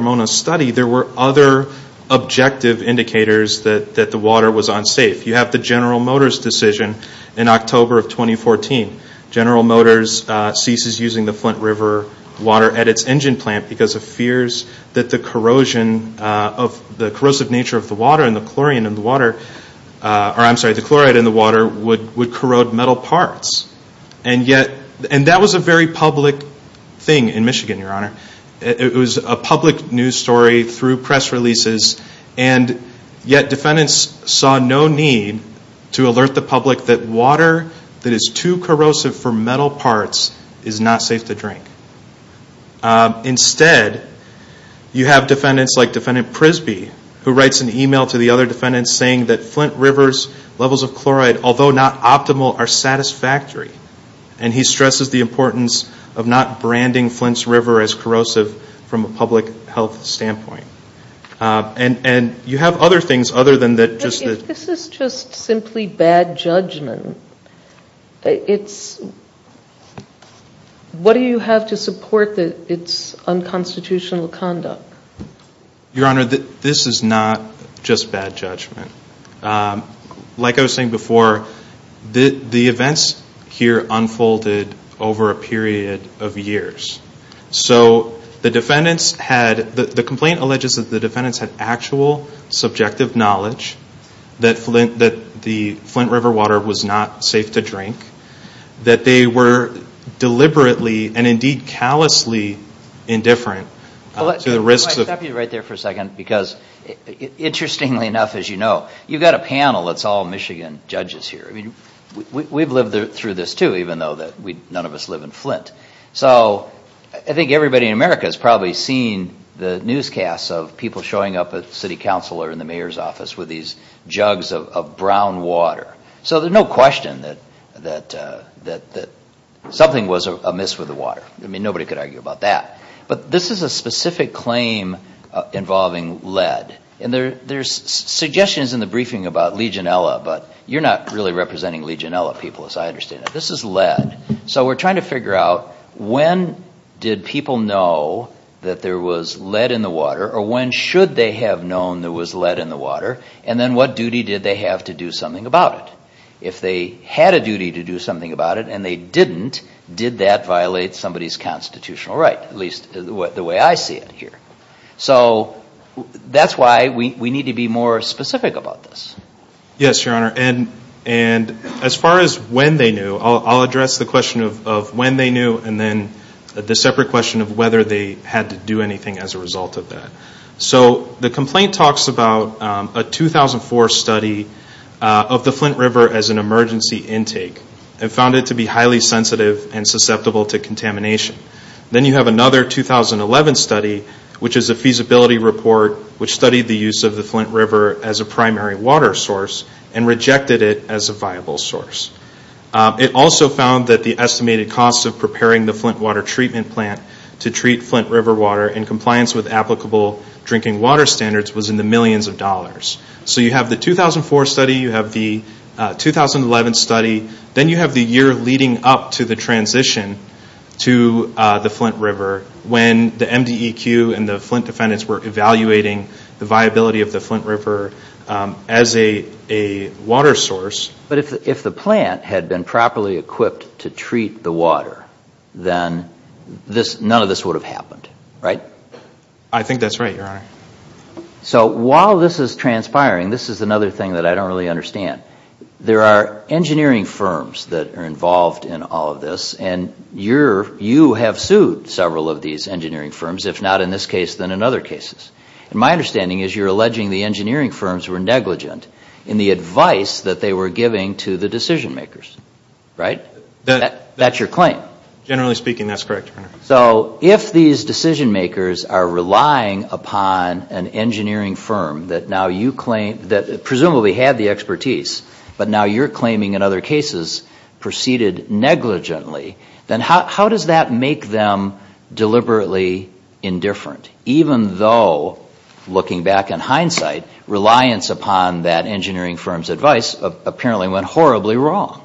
Mona's study, there were other objective indicators that the water was unsafe. You have the General Motors decision in October of 2014. General Motors ceases using the Flint River water at its engine plant because of fears that the corrosive nature of the water and the chloride in the water would corrode metal parts. And that was a very public thing in Michigan, Your Honor. It was a public news story through press releases, and yet defendants saw no need to alert the public that water that is too corrosive for metal parts is not safe to drink. Instead, you have defendants like Defendant Prisby, who writes an email to the other defendants saying that Flint River's levels of chloride, although not optimal, are satisfactory. And he stresses the importance of not branding Flint's River as corrosive from a public health standpoint. And you have other things other than that. If this is just simply bad judgment, what do you have to support its unconstitutional conduct? Your Honor, this is not just bad judgment. Like I was saying before, the events here unfolded over a period of years. So the complaint alleges that the defendants had actual subjective knowledge that the Flint River water was not safe to drink, that they were deliberately and indeed callously indifferent. Let me stop you right there for a second because interestingly enough, as you know, you've got a panel that's all Michigan judges here. We've lived through this too, even though none of us live in Flint. So I think everybody in America has probably seen the newscasts of people showing up as city councilor in the mayor's office with these jugs of brown water. So there's no question that something was amiss with the water. I mean, nobody could argue about that. But this is a specific claim involving lead. And there's suggestions in the briefing about Legionella, but you're not really representing Legionella people as I understand it. This is lead. So we're trying to figure out when did people know that there was lead in the water or when should they have known there was lead in the water and then what duty did they have to do something about it. If they had a duty to do something about it and they didn't, did that violate somebody's constitutional right, at least the way I see it here. So that's why we need to be more specific about this. Yes, Your Honor. And as far as when they knew, I'll address the question of when they knew and then the separate question of whether they had to do anything as a result of that. So the complaint talks about a 2004 study of the Flint River as an emergency intake and found it to be highly sensitive and susceptible to contamination. Then you have another 2011 study which is a feasibility report which studied the use of the Flint River as a primary water source and rejected it as a viable source. It also found that the estimated cost of preparing the Flint water treatment plant to treat Flint River water in compliance with applicable drinking water standards was in the millions of dollars. So you have the 2004 study, you have the 2011 study, then you have the year leading up to the transition to the Flint River when the MDEQ and the Flint defendants were evaluating the viability of the Flint River as a water source. But if the plant had been properly equipped to treat the water, then none of this would have happened, right? I think that's right, Your Honor. So while this is transpiring, this is another thing that I don't really understand. There are engineering firms that are involved in all of this and you have sued several of these engineering firms, if not in this case, then in other cases. My understanding is you're alleging the engineering firms were negligent in the advice that they were giving to the decision makers, right? That's your claim. Generally speaking, that's correct, Your Honor. So if these decision makers are relying upon an engineering firm that presumably had the expertise, but now you're claiming in other cases proceeded negligently, then how does that make them deliberately indifferent? Even though, looking back in hindsight, reliance upon that engineering firm's advice apparently went horribly wrong.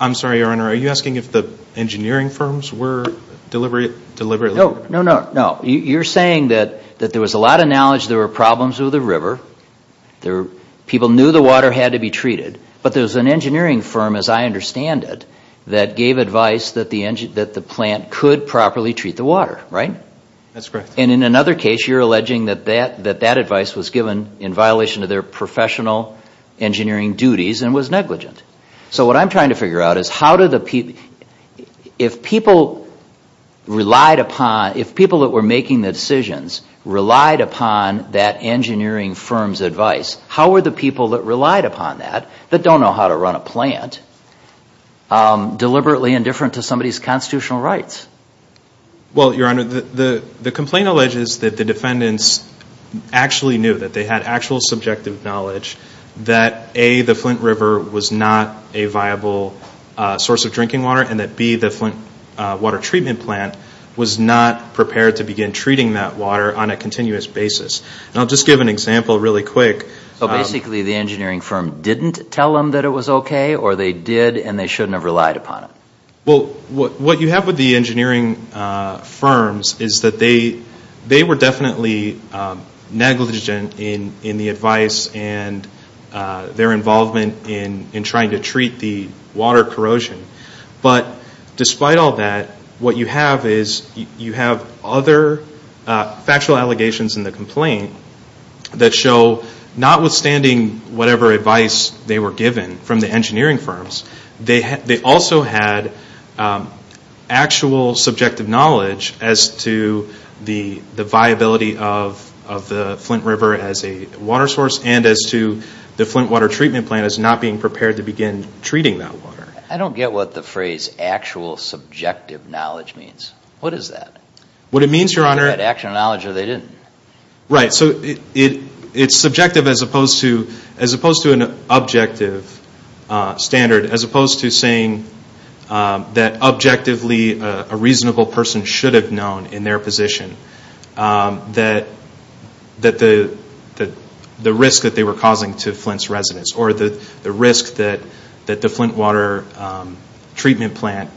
I'm sorry, Your Honor. Are you asking if the engineering firms were deliberate? No, no, no. You're saying that there was a lot of knowledge there were problems with the river, people knew the water had to be treated, but there's an engineering firm, as I understand it, that gave advice that the plant could properly treat the water, right? That's correct. And in another case, you're alleging that that advice was given in violation of their professional engineering duties and was negligent. So what I'm trying to figure out is if people that were making the decisions relied upon that engineering firm's advice, how were the people that relied upon that, that don't know how to run a plant, deliberately indifferent to somebody's constitutional rights? Well, Your Honor, the complaint alleges that the defendants actually knew, that they had actual subjective knowledge, that A, the Flint River was not a viable source of drinking water, and that B, the Flint water treatment plant was not prepared to begin treating that water on a continuous basis. And I'll just give an example really quick. So basically the engineering firm didn't tell them that it was okay, or they did and they shouldn't have relied upon it? Well, what you have with the engineering firms is that they were definitely negligent in the advice and their involvement in trying to treat the water corrosion. But despite all that, what you have is you have other factual allegations in the complaint that show notwithstanding whatever advice they were given from the engineering firms, they also had actual subjective knowledge as to the viability of the Flint River as a water source and as to the Flint water treatment plant as not being prepared to begin treating that water. I don't get what the phrase actual subjective knowledge means. What is that? What it means, Your Honor... They had actual knowledge or they didn't? Right, so it's subjective as opposed to an objective standard, as opposed to saying that objectively a reasonable person should have known in their position that the risk that they were causing to Flint's residents or the risk that the Flint water treatment plant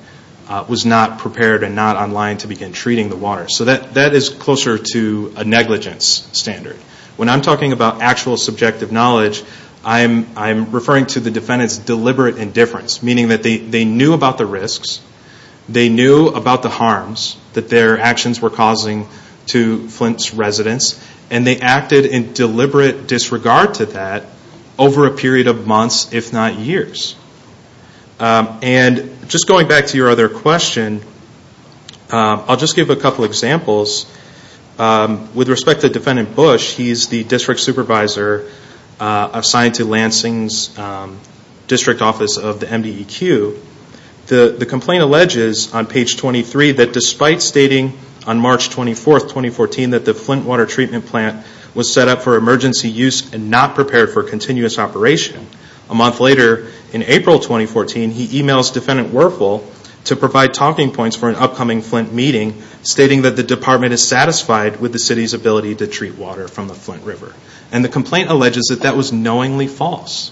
was not prepared and not online to begin treating the water. So that is closer to a negligence standard. When I'm talking about actual subjective knowledge, I'm referring to the defendant's deliberate indifference, meaning that they knew about the risks, they knew about the harms that their actions were causing to Flint's residents, and they acted in deliberate disregard to that over a period of months, if not years. And just going back to your other question, I'll just give a couple examples. With respect to Defendant Bush, he's the District Supervisor assigned to Lansing's District Office of the MBEQ. The complaint alleges on page 23 that despite stating on March 24, 2014, that the Flint water treatment plant was set up for emergency use and not prepared for continuous operation, a month later in April 2014, he emails Defendant Werfel to provide talking points for an upcoming Flint meeting, stating that the department is satisfied with the city's ability to treat water from the Flint River. And the complaint alleges that that was knowingly false.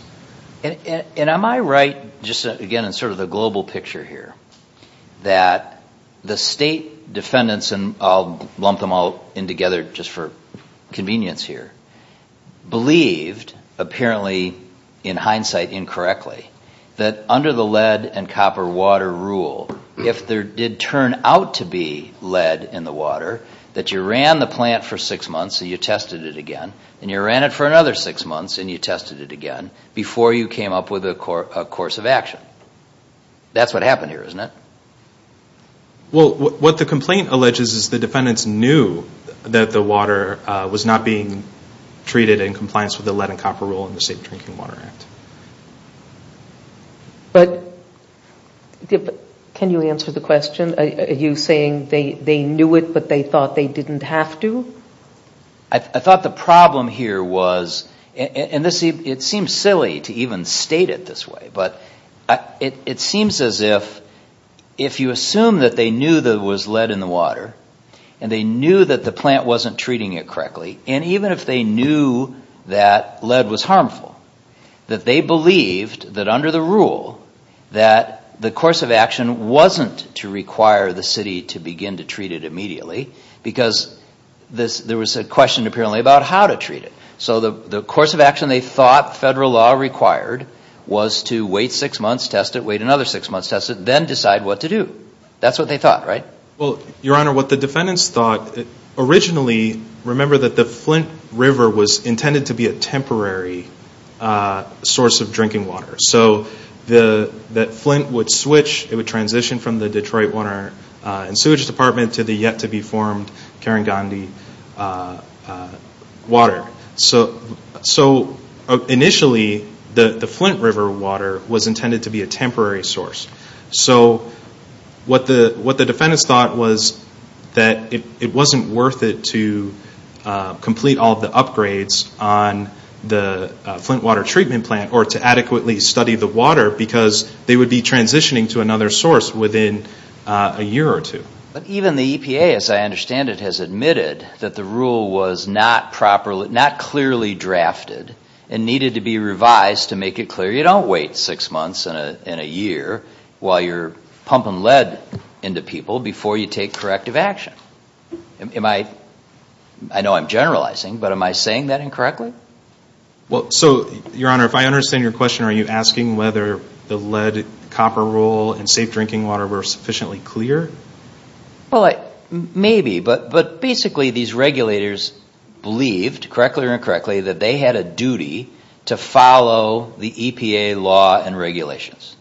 And am I right, just again in sort of the global picture here, that the state defendants, and I'll lump them all in together just for convenience here, believed, apparently in hindsight incorrectly, that under the lead and copper water rule, if there did turn out to be lead in the water, that you ran the plant for six months and you tested it again, and you ran it for another six months and you tested it again, before you came up with a course of action. That's what happened here, isn't it? Well, what the complaint alleges is the defendants knew that the water was not being treated in compliance with the lead and copper rule in the State Drinking Water Act. But, can you answer the question? Are you saying they knew it, but they thought they didn't have to? I thought the problem here was, and it seems silly to even state it this way, but it seems as if, if you assume that they knew there was lead in the water, and they knew that the plant wasn't treating it correctly, and even if they knew that lead was harmful, that they believed that under the rule, that the course of action wasn't to require the city to begin to treat it immediately, because there was a question apparently about how to treat it. So, the course of action they thought federal law required was to wait six months, test it, wait another six months, test it, then decide what to do. That's what they thought, right? Well, Your Honor, what the defendants thought, originally, remember that the Flint River was intended to be a temporary source of drinking water. So, that Flint would switch, it would transition from the Detroit Water and Sewage Department to the yet-to-be-formed Karangandi Water. So, initially, the Flint River water was intended to be a temporary source. So, what the defendants thought was that it wasn't worth it to complete all the upgrades on the Flint Water Treatment Plant, or to adequately study the water, because they would be transitioning to another source within a year or two. But even the EPA, as I understand it, has admitted that the rule was not clearly drafted and needed to be revised to make it clear you don't wait six months and a year while you're pumping lead into people before you take corrective action. I know I'm generalizing, but am I saying that incorrectly? So, Your Honor, if I understand your question, are you asking whether the lead, copper rule, and safe drinking water were sufficiently clear? Well, maybe, but basically these regulators believed, correctly or incorrectly, that they had a duty to follow the EPA law and regulations.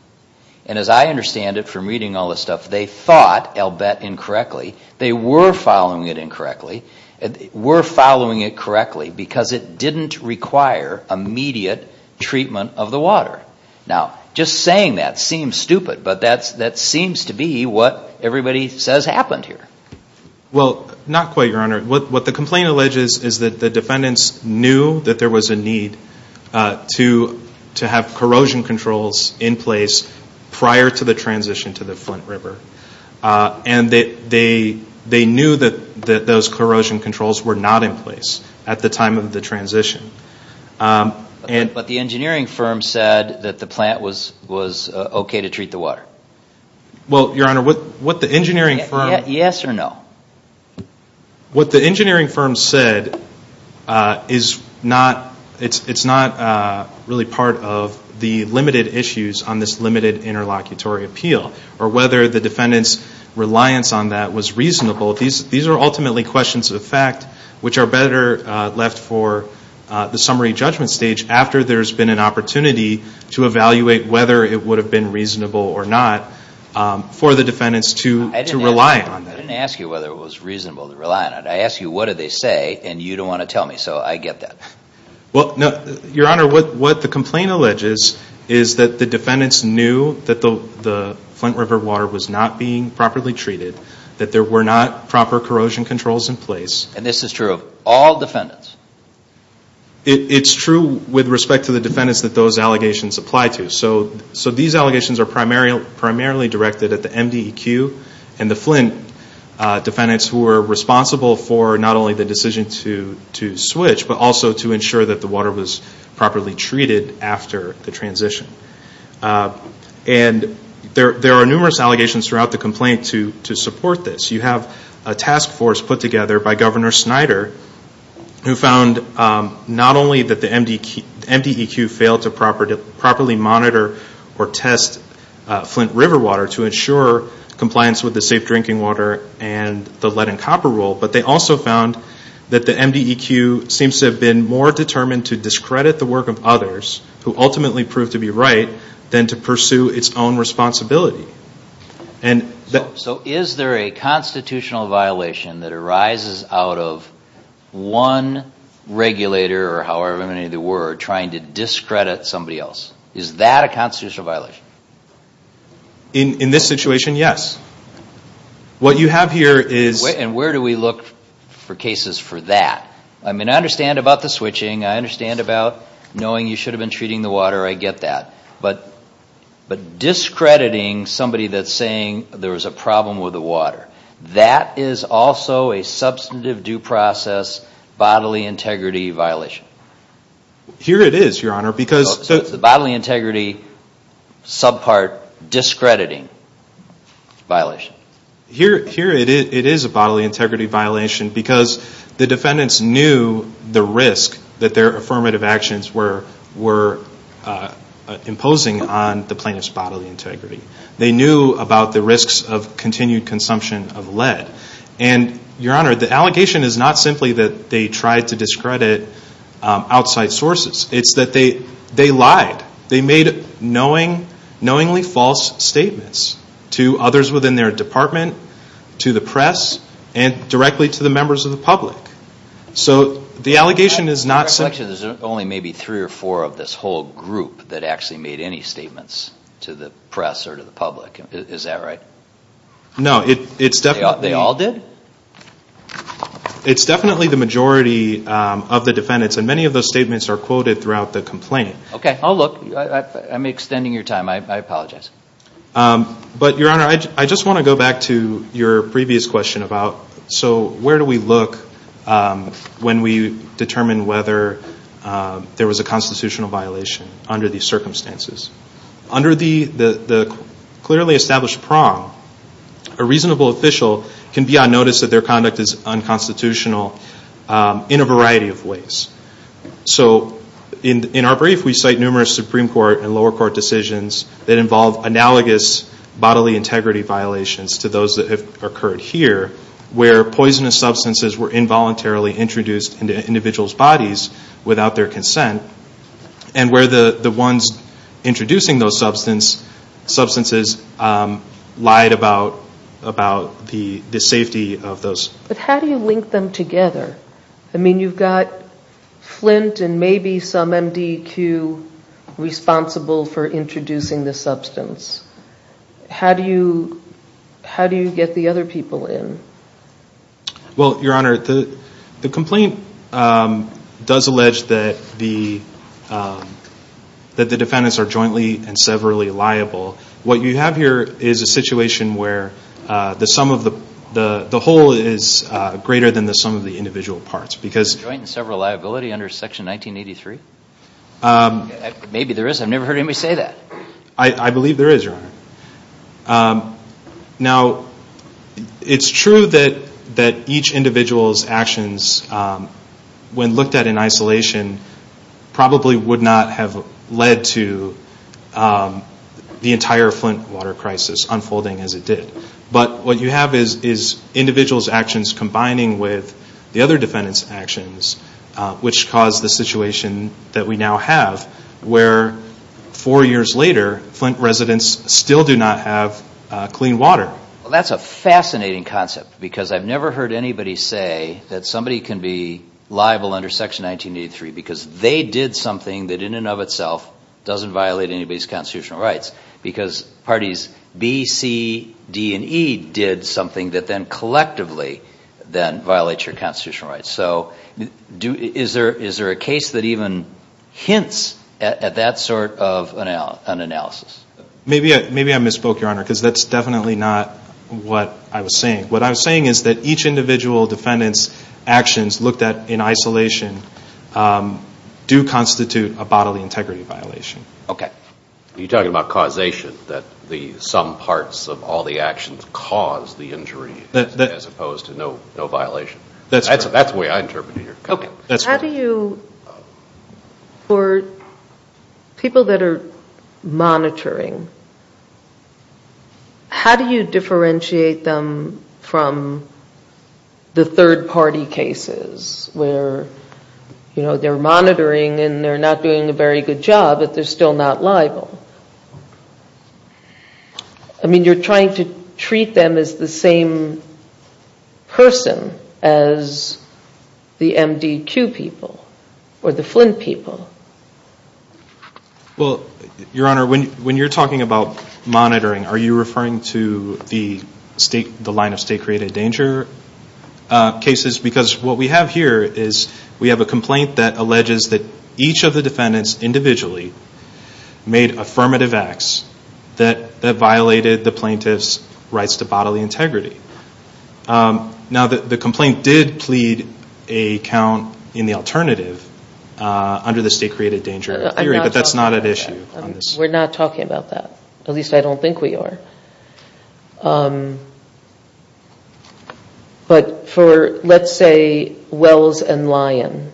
And as I understand it from reading all this stuff, they thought, I'll bet, incorrectly, they were following it incorrectly, were following it correctly, because it didn't require immediate treatment of the water. Now, just saying that seems stupid, but that seems to be what everybody says happened here. Well, not quite, Your Honor. What the complaint alleges is that the defendants knew that there was a need to have corrosion controls in place prior to the transition to the Flint River. And they knew that those corrosion controls were not in place at the time of the transition. But the engineering firm said that the plant was okay to treat the water. Well, Your Honor, what the engineering firm... Yes or no? What the engineering firm said is not really part of the limited issues on this limited interlocutory appeal, or whether the defendants' reliance on that was reasonable. These are ultimately questions of fact, which are better left for the summary judgment stage after there's been an opportunity to evaluate whether it would have been reasonable or not for the defendants to rely on. I didn't ask you whether it was reasonable to rely on it. I asked you what did they say, and you didn't want to tell me, so I get that. Well, Your Honor, what the complaint alleges is that the defendants knew that the Flint River water was not being properly treated, that there were not proper corrosion controls in place. And this is true of all defendants? It's true with respect to the defendants that those allegations apply to. So these allegations are primarily directed at the MDEQ and the Flint defendants who were responsible for not only the decision to switch, but also to ensure that the water was properly treated after the transition. And there are numerous allegations throughout the complaint to support this. You have a task force put together by Governor Snyder, who found not only that the MDEQ failed to properly monitor or test Flint River water to ensure compliance with the safe drinking water and the lead and copper rule, but they also found that the MDEQ seems to have been more determined to discredit the work of others who ultimately proved to be right than to pursue its own responsibility. So is there a constitutional violation that arises out of one regulator or however many there were trying to discredit somebody else? Is that a constitutional violation? In this situation, yes. What you have here is... And where do we look for cases for that? I mean, I understand about the switching, I understand about knowing you should have been treating the water, I get that. But discrediting somebody that's saying there was a problem with the water, that is also a substantive due process bodily integrity violation. Here it is, Your Honor, because... What is the bodily integrity subpart discrediting violation? Here it is a bodily integrity violation because the defendants knew the risk that their affirmative actions were imposing on the plaintiff's bodily integrity. They knew about the risks of continued consumption of lead. And, Your Honor, the allegation is not simply that they tried to discredit outside sources. It's that they lied. They made knowingly false statements to others within their department, to the press, and directly to the members of the public. So the allegation is not... There's only maybe three or four of this whole group that actually made any statements to the press or to the public. Is that right? No, it's definitely... They all did? It's definitely the majority of the defendants. And many of those statements are quoted throughout the complaint. Okay, I'll look. I'm extending your time. I apologize. But, Your Honor, I just want to go back to your previous question about, so where do we look when we determine whether there was a constitutional violation under these circumstances? Under the clearly established prong, a reasonable official can be on notice that their conduct is unconstitutional in a variety of ways. So in our brief, we cite numerous Supreme Court and lower court decisions that involve analogous bodily integrity violations to those that have occurred here, where poisonous substances were involuntarily introduced into individuals' bodies without their consent, and where the ones introducing those substances lied about the safety of those. But how do you link them together? I mean, you've got Flint and maybe some MDQ responsible for introducing the substance. How do you get the other people in? Well, Your Honor, the complaint does allege that the defendants are jointly and severally liable. What you have here is a situation where the whole is greater than the sum of the individual parts. Joint and severally liability under Section 1983? Maybe there is. I've never heard anybody say that. I believe there is, Your Honor. Now, it's true that each individual's actions, when looked at in isolation, probably would not have led to the entire Flint water crisis unfolding as it did. But what you have is individuals' actions combining with the other defendants' actions, which caused the situation that we now have, where four years later, Flint residents still do not have clean water. Well, that's a fascinating concept, because I've never heard anybody say that somebody can be liable under Section 1983 because they did something that in and of itself doesn't violate anybody's constitutional rights because parties B, C, D, and E did something that then collectively violates your constitutional rights. So is there a case that even hints at that sort of analysis? Maybe I misspoke, Your Honor, because that's definitely not what I was saying. What I was saying is that each individual defendant's actions looked at in isolation do constitute a bodily integrity violation. Okay. You're talking about causation, that some parts of all the actions caused the injury, as opposed to no violation. That's the way I interpret it here. Okay. For people that are monitoring, how do you differentiate them from the third-party cases where they're monitoring and they're not doing a very good job, but they're still not liable? I mean, you're trying to treat them as the same person as the MD2 people or the Flint people. Well, Your Honor, when you're talking about monitoring, are you referring to the line of state-created danger cases? Because what we have here is we have a complaint that alleges that each of the defendants individually made affirmative acts that violated the plaintiff's rights to bodily integrity. Now, the complaint did plead a count in the alternative under the state-created danger theory, but that's not at issue. We're not talking about that. At least, I don't think we are. But for, let's say, Wells and Lyon,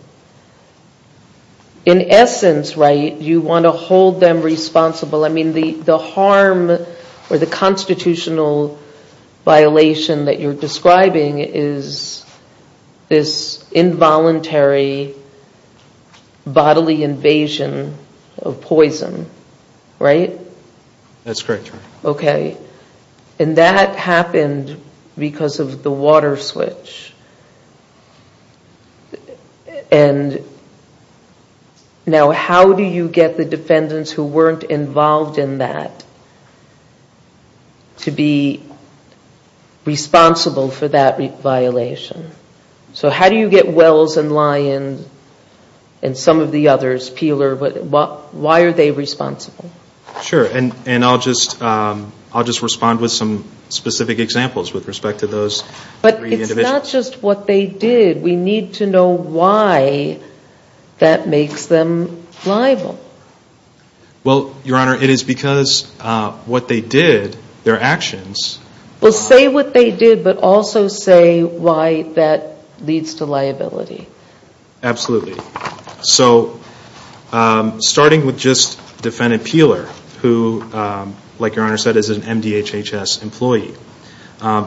in essence, right, you want to hold them responsible. I mean, the harm or the constitutional violation that you're describing is this involuntary bodily invasion of poison, right? That's correct, Your Honor. Okay. And that happened because of the water switch. Now, how do you get the defendants who weren't involved in that to be responsible for that violation? So how do you get Wells and Lyon and some of the others, Peeler, why are they responsible? Sure. And I'll just respond with some specific examples with respect to those three individuals. But it's not just what they did. We need to know why that makes them liable. Well, Your Honor, it is because what they did, their actions... Well, say what they did, but also say why that leads to liability. Absolutely. So, starting with just Defendant Peeler, who, like Your Honor said, is an MDHHS employee.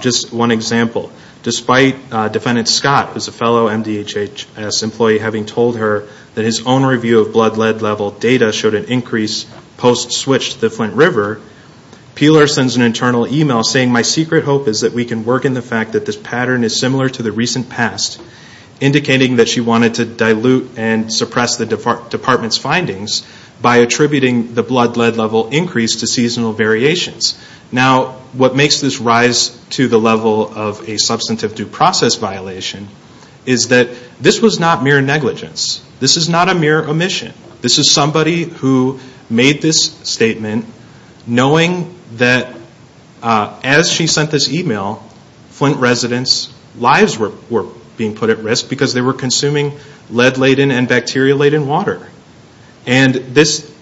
Just one example. Despite Defendant Scott, who is a fellow MDHHS employee, having told her that his own review of blood lead level data showed an increase post-switch to the Flint River, Peeler sends an internal email saying, My secret hope is that we can work in the fact that this pattern is similar to the recent past, indicating that she wanted to dilute and suppress the department's findings by attributing the blood lead level increase to seasonal variations. Now, what makes this rise to the level of a substantive due process violation is that this was not mere negligence. This is not a mere omission. This is somebody who made this statement knowing that as she sent this email, Flint residents' lives were being put at risk because they were consuming lead-laden and bacteria-laden water. And this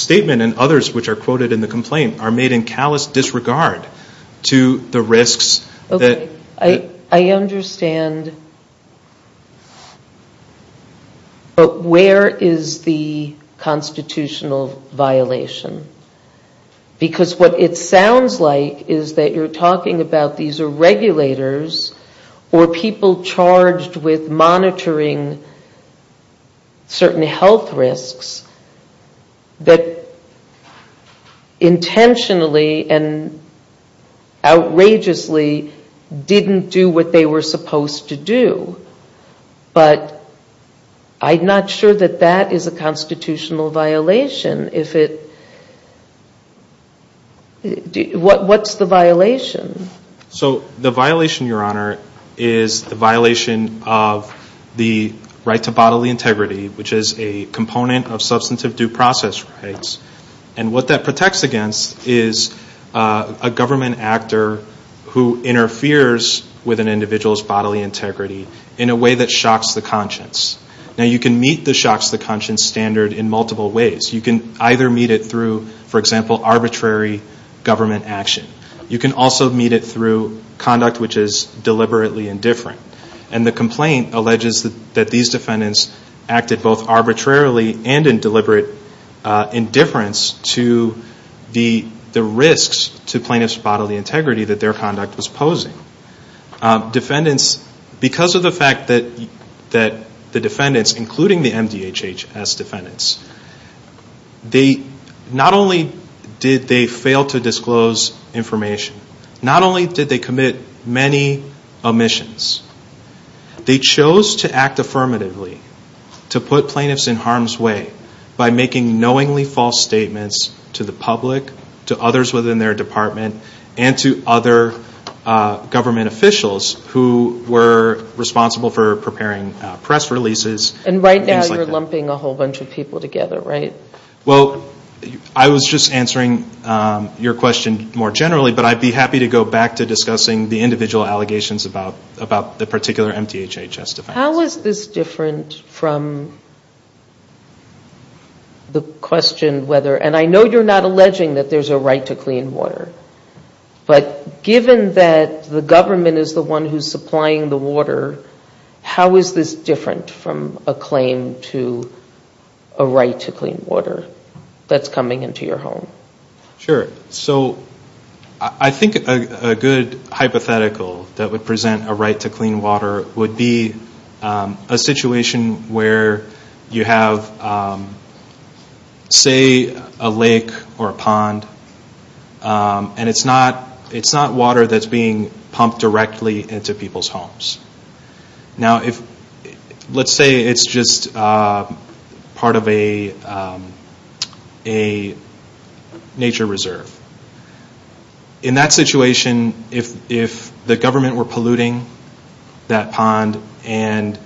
statement and others which are quoted in the complaint are made in callous disregard to the risks... I understand, but where is the constitutional violation? Because what it sounds like is that you're talking about these are regulators or people charged with monitoring certain health risks that intentionally and outrageously didn't do what they were supposed to do. But I'm not sure that that is a constitutional violation. What's the violation? So the violation, Your Honor, is the violation of the right to bodily integrity, which is a component of substantive due process rights. And what that protects against is a government actor who interferes with an individual's bodily integrity in a way that shocks the conscience. Now, you can meet the shocks the conscience standard in multiple ways. You can either meet it through, for example, arbitrary government action. You can also meet it through conduct which is deliberately indifferent. And the complaint alleges that these defendants acted both arbitrarily and in deliberate indifference to the risks to plaintiff's bodily integrity that their conduct was posing. Because of the fact that the defendants, including the MDHHS defendants, not only did they fail to disclose information, not only did they commit many omissions, they chose to act affirmatively to put plaintiffs in harm's way by making knowingly false statements to the public, to others within their department, and to other government officials who were responsible for preparing press releases. And right now you're lumping a whole bunch of people together, right? Well, I was just answering your question more generally, but I'd be happy to go back to discussing the individual allegations about the particular MDHHS defendants. How is this different from the question whether, and I know you're not alleging that there's a right to clean water, but given that the government is the one who's supplying the water, how is this different from a claim to a right to clean water that's coming into your home? Sure. So I think a good hypothetical that would present a right to clean water would be a situation where you have say a lake or a pond, and it's not water that's being pumped directly into people's homes. Now let's say it's just part of a nature reserve. In that situation, if the government were polluting that pond and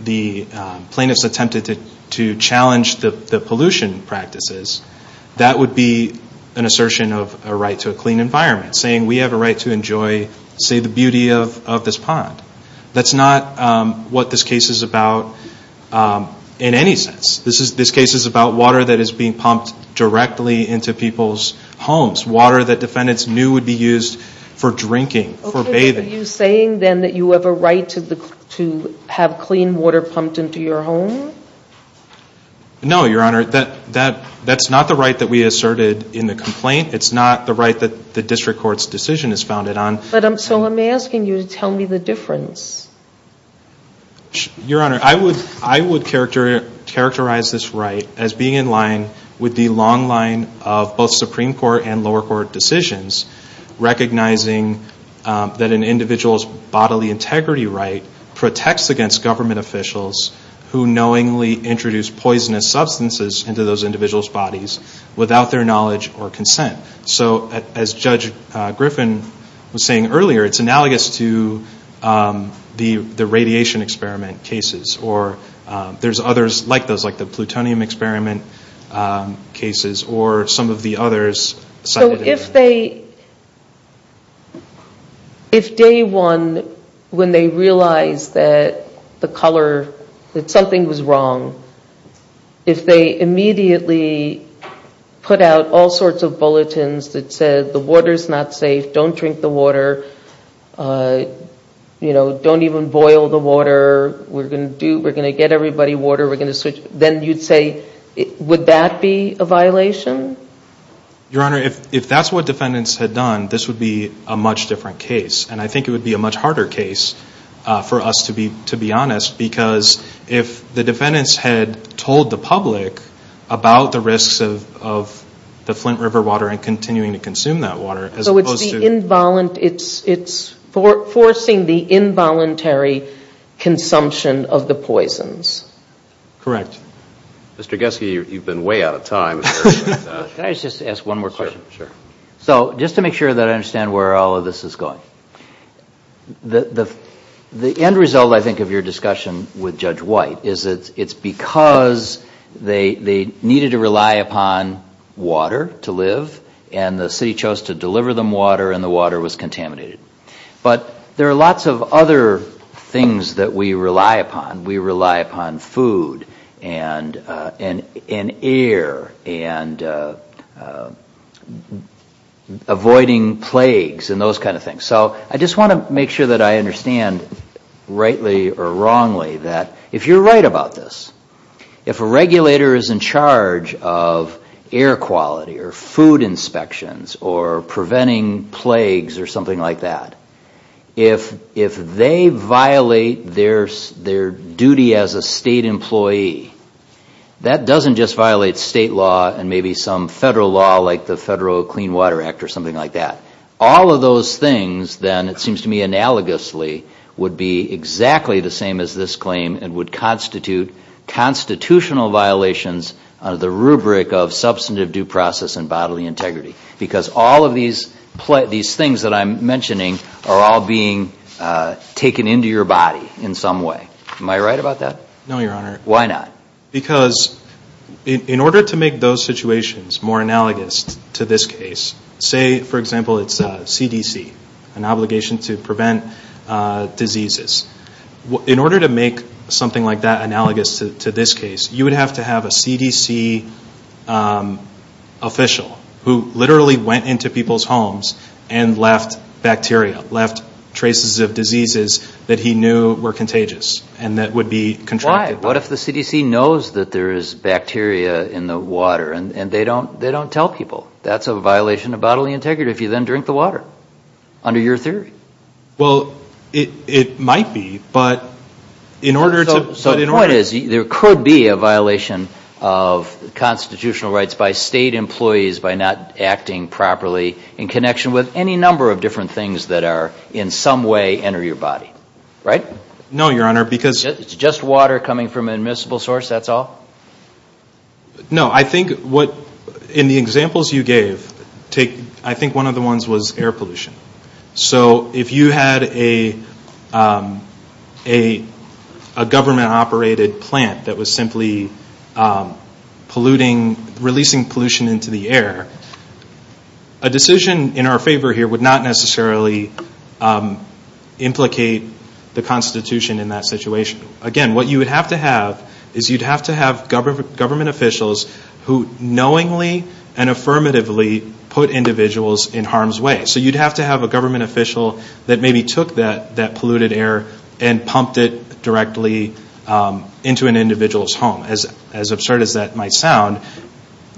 the plaintiffs attempted to challenge the pollution practices, that would be an assertion of a right to a clean environment, saying we have a right to enjoy, say, the beauty of this pond. That's not what this case is about in any sense. This case is about water that is being pumped directly into people's homes, water that defendants knew would be used for drinking, for bathing. Are you saying then that you have a right to have clean water pumped into your home? No, Your Honor. That's not the right that we asserted in the complaint. It's not the right that the district court's decision is founded on. So I'm asking you to tell me the difference. Your Honor, I would characterize this right as being in line with the long line of both Supreme Court and lower court decisions recognizing that an individual's bodily integrity right protects against government officials who knowingly introduce poisonous substances into those individuals' bodies without their knowledge or consent. So as Judge Griffin was saying earlier, it's analogous to the radiation experiment cases. There's others like those, like the plutonium experiment cases or some of the others. So if they, if day one when they realized that the color, that something was wrong, if they immediately put out all sorts of bulletins that said the water's not safe, don't drink the water, you know, don't even boil the water, we're going to get everybody water, then you'd say, would that be a violation? Your Honor, if that's what defendants had done, this would be a much different case. And I think it would be a much harder case for us to be honest, because if the defendants had told the public about the risks of the Flint River water and continuing to consume that water as opposed to... So it's the involuntary, it's forcing the involuntary consumption of the poisons. Correct. Mr. Gessie, you've been way out of time. Can I just ask one more question? Sure. So just to make sure that I understand where all of this is going. The end result, I think, of your discussion with Judge White is that it's because they needed to rely upon water to live and the city chose to deliver them water and the water was contaminated. But there are lots of other things that we rely upon. We rely upon food and air and avoiding plagues and those kind of things. So I just want to make sure that I understand rightly or wrongly that if you're right about this, if a regulator is in charge of air quality or food inspections or preventing plagues or something like that, if they violate their duty as a state employee, that doesn't just violate state law and maybe some federal law like the Federal Clean Water Act or something like that. All of those things then, it seems to me analogously, would be exactly the same as this claim and would constitute constitutional violations of the rubric of substantive due process and bodily integrity. Because all of these things that I'm mentioning are all being taken into your body in some way. Am I right about that? No, Your Honor. Why not? Because in order to make those situations more analogous to this case, say, for example, it's CDC, an obligation to prevent diseases. In order to make something like that analogous to this case, you would have to have a CDC official who literally went into people's homes and left bacteria, left traces of diseases that he knew were contagious and that would be controlled. Why? What if the CDC knows that there is bacteria in the water and they don't tell people? That's a violation of bodily integrity if you then drink the water under your theory. Well, it might be, but in order to… The point is there could be a violation of constitutional rights by state employees by not acting properly in connection with any number of different things that are in some way enter your body. Right? No, Your Honor, because… It's just water coming from an admissible source, that's all? No, I think in the examples you gave, I think one of the ones was air pollution. If you had a government-operated plant that was simply releasing pollution into the air, a decision in our favor here would not necessarily implicate the Constitution in that situation. Again, what you would have to have is you'd have to have government officials who knowingly and affirmatively put individuals in harm's way. So you'd have to have a government official that maybe took that polluted air and pumped it directly into an individual's home, as absurd as that might sound.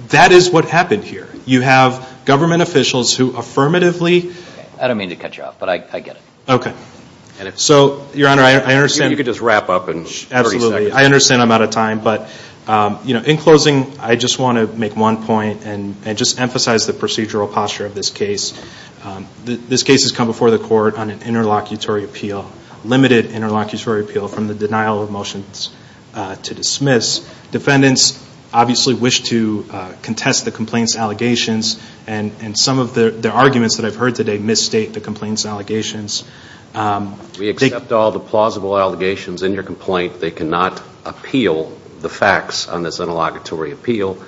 That is what happened here. You have government officials who affirmatively… I don't mean to cut you off, but I get it. Okay. So, Your Honor, I understand… You could just wrap up and… Absolutely, I understand I'm out of time, but in closing, I just want to make one point and just emphasize the procedural posture of this case. This case has come before the court on an interlocutory appeal, limited interlocutory appeal from the denial of motions to dismiss. Defendants obviously wish to contest the complaint's allegations, and some of the arguments that I've heard today misstate the complaint's allegations. We accept all the plausible allegations in your complaint. They cannot appeal the facts on this interlocutory appeal,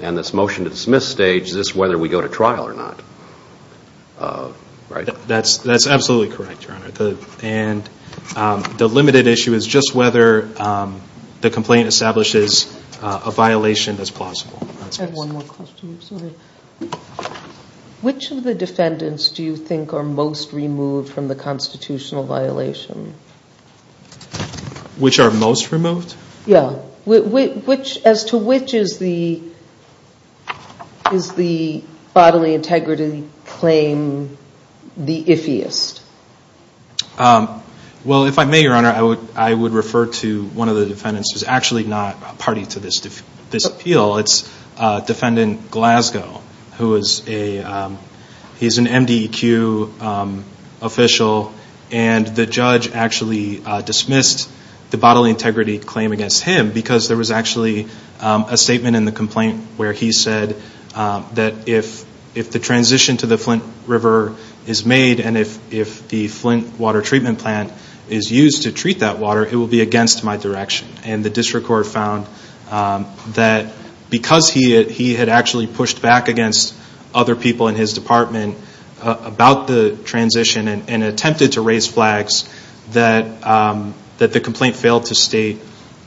and this motion to dismiss stage is whether we go to trial or not, right? That's absolutely correct, Your Honor, and the limited issue is just whether the complaint establishes a violation as possible. I have one more question. Which of the defendants do you think are most removed from the constitutional violation? Which are most removed? Yeah. As to which is the bodily integrity claim the iffiest? Well, if I may, Your Honor, I would refer to one of the defendants who's actually not party to this appeal. It's Defendant Glasgow, who is an MDEQ official, and the judge actually dismissed the bodily integrity claim against him because there was actually a statement in the complaint where he said that if the transition to the Flint River is made and if the Flint water treatment plant is used to treat that water, it will be against my direction, and the district court found that because he had actually pushed back against other people in his department about the transition and attempted to raise flags that the complaint failed to state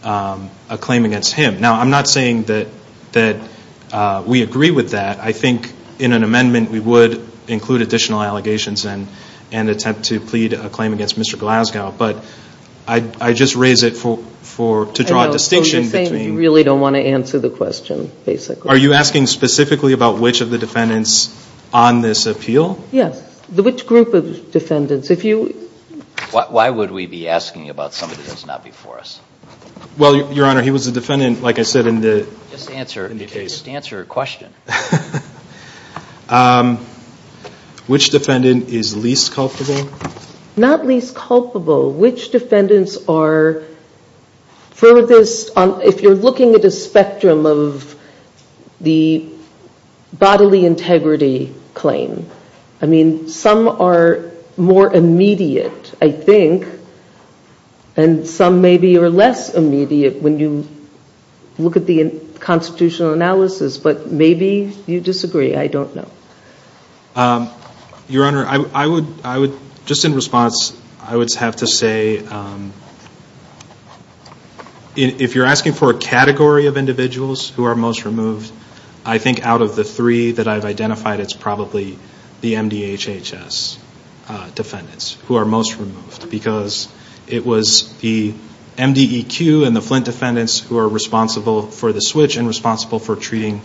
a claim against him. Now, I'm not saying that we agree with that. I think in an amendment we would include additional allegations and attempt to plead a claim against Mr. Glasgow, but I just raise it to draw a distinction. So you're saying you really don't want to answer the question, basically. Are you asking specifically about which of the defendants on this appeal? Yes. Which group of defendants? Why would we be asking about somebody that's not before us? Well, Your Honor, he was a defendant, like I said, in the case. Just answer a question. Which defendant is least culpable? Not least culpable. Which defendants are furthest, if you're looking at a spectrum of the bodily integrity claim? I mean, some are more immediate, I think, and some maybe are less immediate when you look at the constitutional analysis, but maybe you disagree. I don't know. Your Honor, just in response, I would have to say, if you're asking for a category of individuals who are most removed, I think out of the three that I've identified, it's probably the MDHHS defendants who are most removed because it was the MDEQ and the Flint defendants who are responsible for the switch and responsible for treating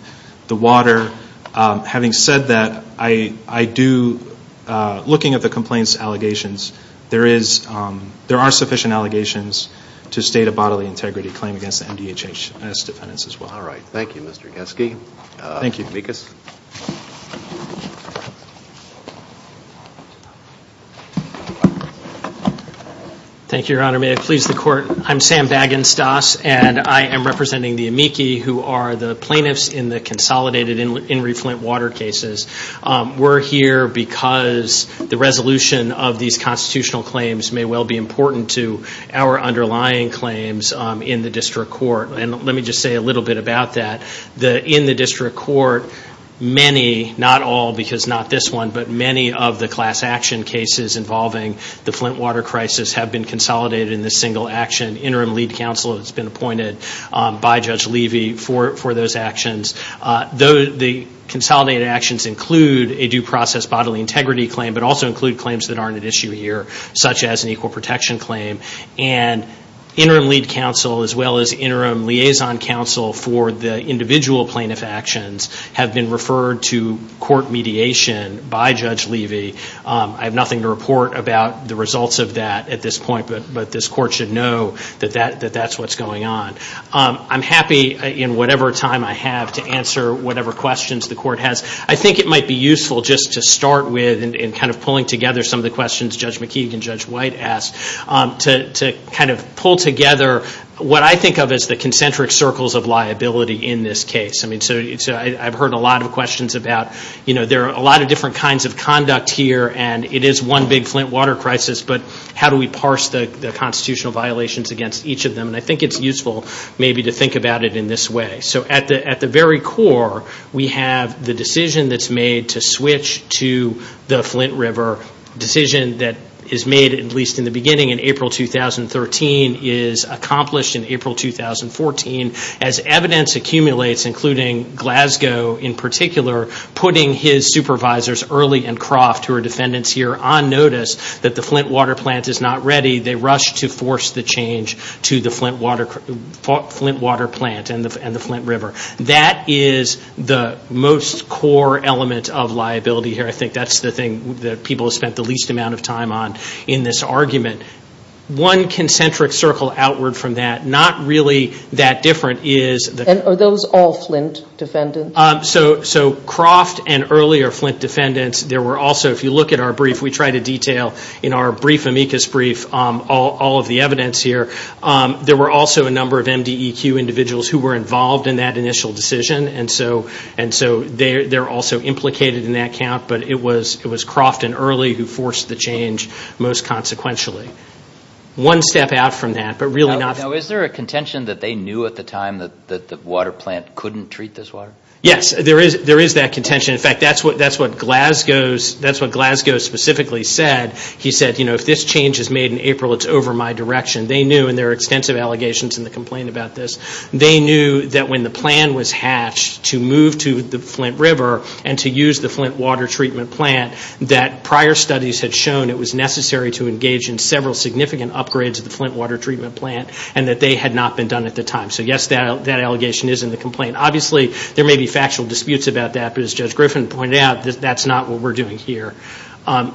the water. Having said that, I do, looking at the complaints and allegations, there are sufficient allegations to state a bodily integrity claim against the MDHHS defendants as well. All right. Thank you, Mr. Kesky. Thank you. Thank you, Your Honor. May it please the Court. I'm Sam Bagenstos, and I am representing the amici who are the plaintiffs in the consolidated Henry Flint water cases. We're here because the resolution of these constitutional claims may well be important to our underlying claims in the district court, and let me just say a little bit about that. In the district court, many, not all because not this one, but many of the class action cases involving the Flint water crisis have been consolidated in this single action. It's been appointed by Judge Levy for those actions. The consolidated actions include a due process bodily integrity claim, but also include claims that aren't at issue here, such as an equal protection claim, and interim lead counsel as well as interim liaison counsel for the individual plaintiff actions have been referred to court mediation by Judge Levy. I have nothing to report about the results of that at this point, but this court should know that that's what's going on. I'm happy in whatever time I have to answer whatever questions the court has. I think it might be useful just to start with, and kind of pulling together some of the questions Judge McKee and Judge White asked, to kind of pull together what I think of as the concentric circles of liability in this case. I've heard a lot of questions about there are a lot of different kinds of conduct here, and it is one big Flint water crisis, but how do we parse the constitutional violations against each of them? I think it's useful maybe to think about it in this way. At the very core, we have the decision that's made to switch to the Flint River, a decision that is made at least in the beginning in April 2013 is accomplished in April 2014. As evidence accumulates, including Glasgow in particular, putting his supervisors, Early and Croft, who are defendants here, on notice that the Flint water plant is not ready, they rush to force the change to the Flint water plant and the Flint River. That is the most core element of liability here. I think that's the thing that people have spent the least amount of time on in this argument. One concentric circle outward from that, not really that different, is... Are those all Flint defendants? So Croft and Early are Flint defendants. There were also, if you look at our brief, we try to detail in our brief, amicus brief, all of the evidence here. There were also a number of MDEQ individuals who were involved in that initial decision, and so they're also implicated in that count, but it was Croft and Early who forced the change most consequentially. One step out from that, but really not... Now, is there a contention that they knew at the time that the water plant couldn't treat this water? Yes, there is that contention. In fact, that's what Glasgow specifically said. He said, you know, if this change is made in April, it's over my direction. They knew, and there are extensive allegations in the complaint about this, they knew that when the plan was hatched to move to the Flint River and to use the Flint water treatment plant, that prior studies had shown it was necessary to engage in several significant upgrades to the Flint water treatment plant and that they had not been done at the time. So, yes, that allegation is in the complaint. Obviously, there may be factual disputes about that, but as Judge Griffin pointed out, that's not what we're doing here.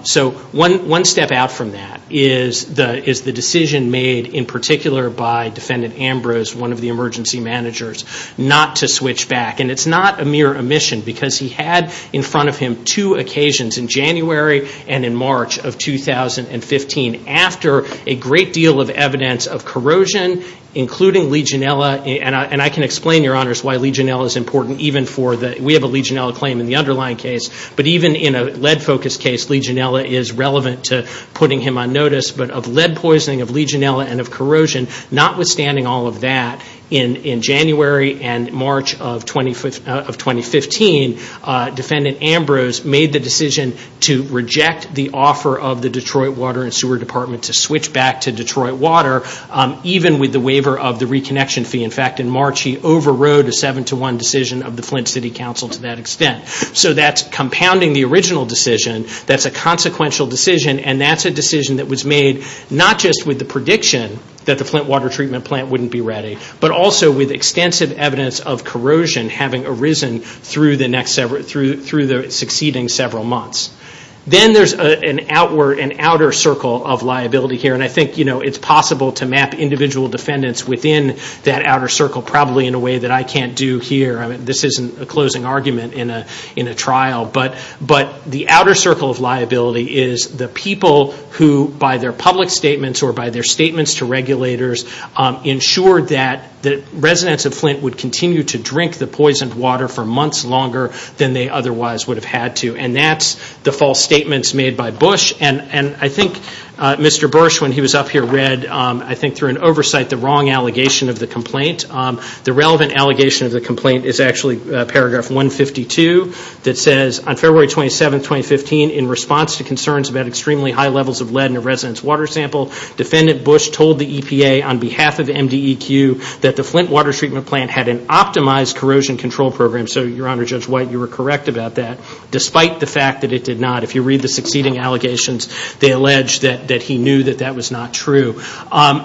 So, one step out from that is the decision made in particular by Defendant Ambrose, one of the emergency managers, not to switch back, and it's not a mere omission because he had in front of him two occasions, in January and in March of 2015, after a great deal of evidence of corrosion, including Legionella, and I can explain, Your Honors, why Legionella is important even for the, we have a Legionella claim in the underlying case, but even in a lead-focused case, Legionella is relevant to putting him on notice, but of lead poisoning of Legionella and of corrosion, notwithstanding all of that, in January and March of 2015, Defendant Ambrose made the decision to reject the offer of the Detroit Water and Sewer Department to switch back to Detroit Water, even with the waiver of the reconnection fee. In fact, in March, he overrode a 7-to-1 decision of the Flint City Council to that extent. So, that's compounding the original decision. That's a consequential decision, and that's a decision that was made, not just with the prediction that the Flint water treatment plant wouldn't be ready, but also with extensive evidence of corrosion having arisen through the succeeding several months. Then there's an outer circle of liability here, and I think it's possible to map individual defendants within that outer circle, probably in a way that I can't do here. This isn't a closing argument in a trial, but the outer circle of liability is the people who, by their public statements or by their statements to regulators, ensured that residents of Flint would continue to drink the poisoned water for months longer than they otherwise would have had to, and that's the false statements made by Bush. I think Mr. Bush, when he was up here, read, I think through an oversight, the wrong allegation of the complaint. The relevant allegation of the complaint is actually paragraph 152 that says, On February 27, 2015, in response to concerns about extremely high levels of lead in a resident's water sample, Defendant Bush told the EPA on behalf of MDEQ that the Flint water treatment plant had an optimized corrosion control program. So, Your Honor, Judge White, you were correct about that, despite the fact that it did not. If you read the succeeding allegations, they allege that he knew that that was not true.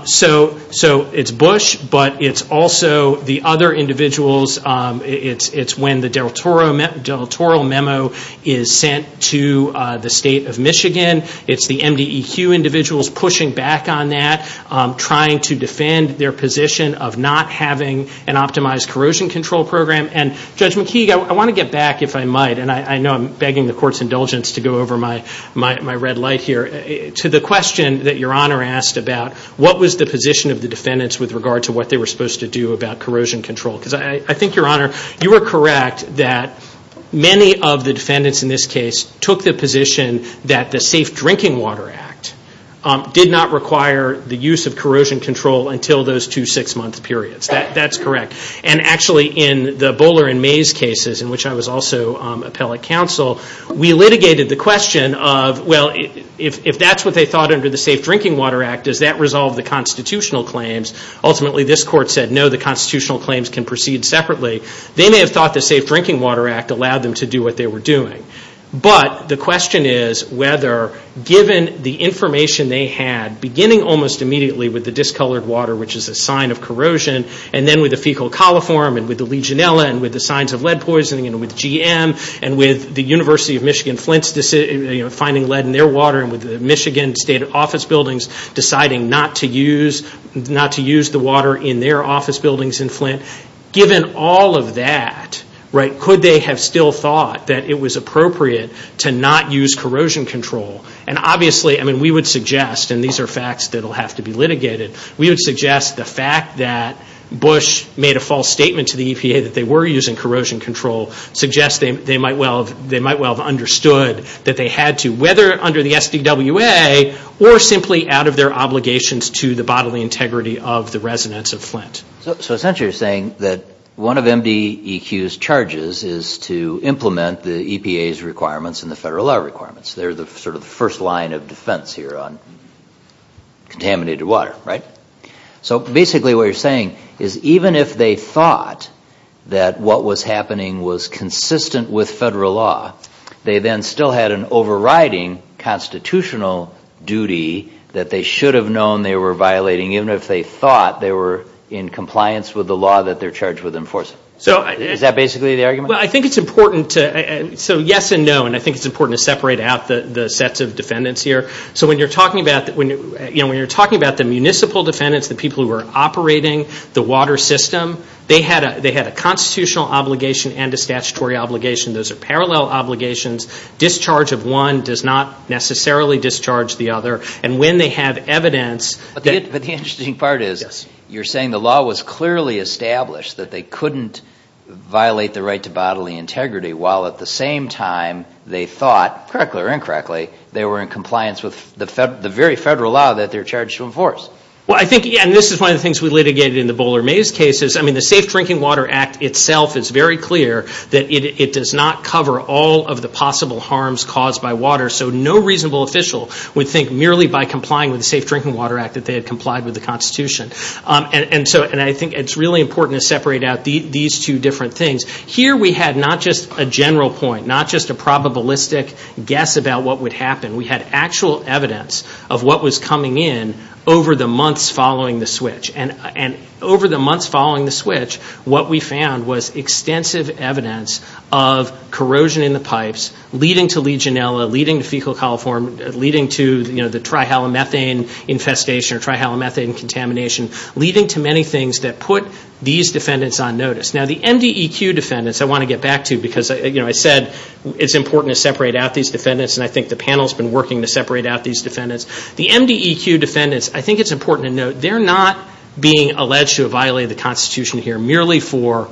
So it's Bush, but it's also the other individuals. It's when the del Toro memo is sent to the state of Michigan. It's the MDEQ individuals pushing back on that, trying to defend their position of not having an optimized corrosion control program. And, Judge McKeague, I want to get back, if I might, and I know I'm begging the Court's indulgence to go over my red light here, to the question that Your Honor asked about what was the position of the defendants with regard to what they were supposed to do about corrosion control? Because I think, Your Honor, you were correct that many of the defendants in this case took the position that the Safe Drinking Water Act did not require the use of corrosion control until those two six-month periods. That's correct. And actually, in the Bowler and Mays cases, in which I was also appellate counsel, we litigated the question of, well, if that's what they thought under the Safe Drinking Water Act, does that resolve the constitutional claims? Ultimately, this Court said, no, the constitutional claims can proceed separately. They may have thought the Safe Drinking Water Act allowed them to do what they were doing. But the question is whether, given the information they had, beginning almost immediately with the discolored water, which is a sign of corrosion, and then with the fecal coliform, and with the Legionella, and with the signs of lead poisoning, and with GM, and with the University of Michigan-Flint finding lead in their water, and with the Michigan State Office Buildings deciding not to use the water in their office buildings in Flint, given all of that, could they have still thought that it was appropriate to not use corrosion control? And obviously, we would suggest, and these are facts that will have to be litigated, we would suggest the fact that Bush made a false statement to the EPA that they were using corrosion control suggests they might well have understood that they had to. Whether under the SBWA or simply out of their obligations to the bodily integrity of the residents of Flint. So essentially you're saying that one of MDEQ's charges is to implement the EPA's requirements and the federal law requirements. They're sort of the first line of defense here on contaminated water, right? So basically what you're saying is even if they thought that what was happening was consistent with federal law, they then still had an overriding constitutional duty that they should have known they were violating, even if they thought they were in compliance with the law that they're charged with enforcing. Is that basically the argument? Well, I think it's important to – so yes and no, and I think it's important to separate out the sets of defendants here. So when you're talking about the municipal defendants, the people who are operating the water system, they had a constitutional obligation and a statutory obligation. Those are parallel obligations. Discharge of one does not necessarily discharge the other. And when they have evidence – But the interesting part is you're saying the law was clearly established that they couldn't violate the right to bodily integrity, while at the same time they thought, correctly or incorrectly, Well, I think – and this is one of the things we litigated in the Bowler Maze cases. I mean the Safe Drinking Water Act itself is very clear that it does not cover all of the possible harms caused by water. So no reasonable official would think merely by complying with the Safe Drinking Water Act that they had complied with the Constitution. And so I think it's really important to separate out these two different things. Here we had not just a general point, not just a probabilistic guess about what would happen. We had actual evidence of what was coming in over the months following the switch. And over the months following the switch, what we found was extensive evidence of corrosion in the pipes leading to legionella, leading to fecal coliform, leading to the trihalomethane infestation or trihalomethane contamination, leading to many things that put these defendants on notice. Now the NDEQ defendants I want to get back to because I said it's important to separate out these defendants and I think the panel has been working to separate out these defendants. The NDEQ defendants, I think it's important to note, they're not being alleged to have violated the Constitution here merely for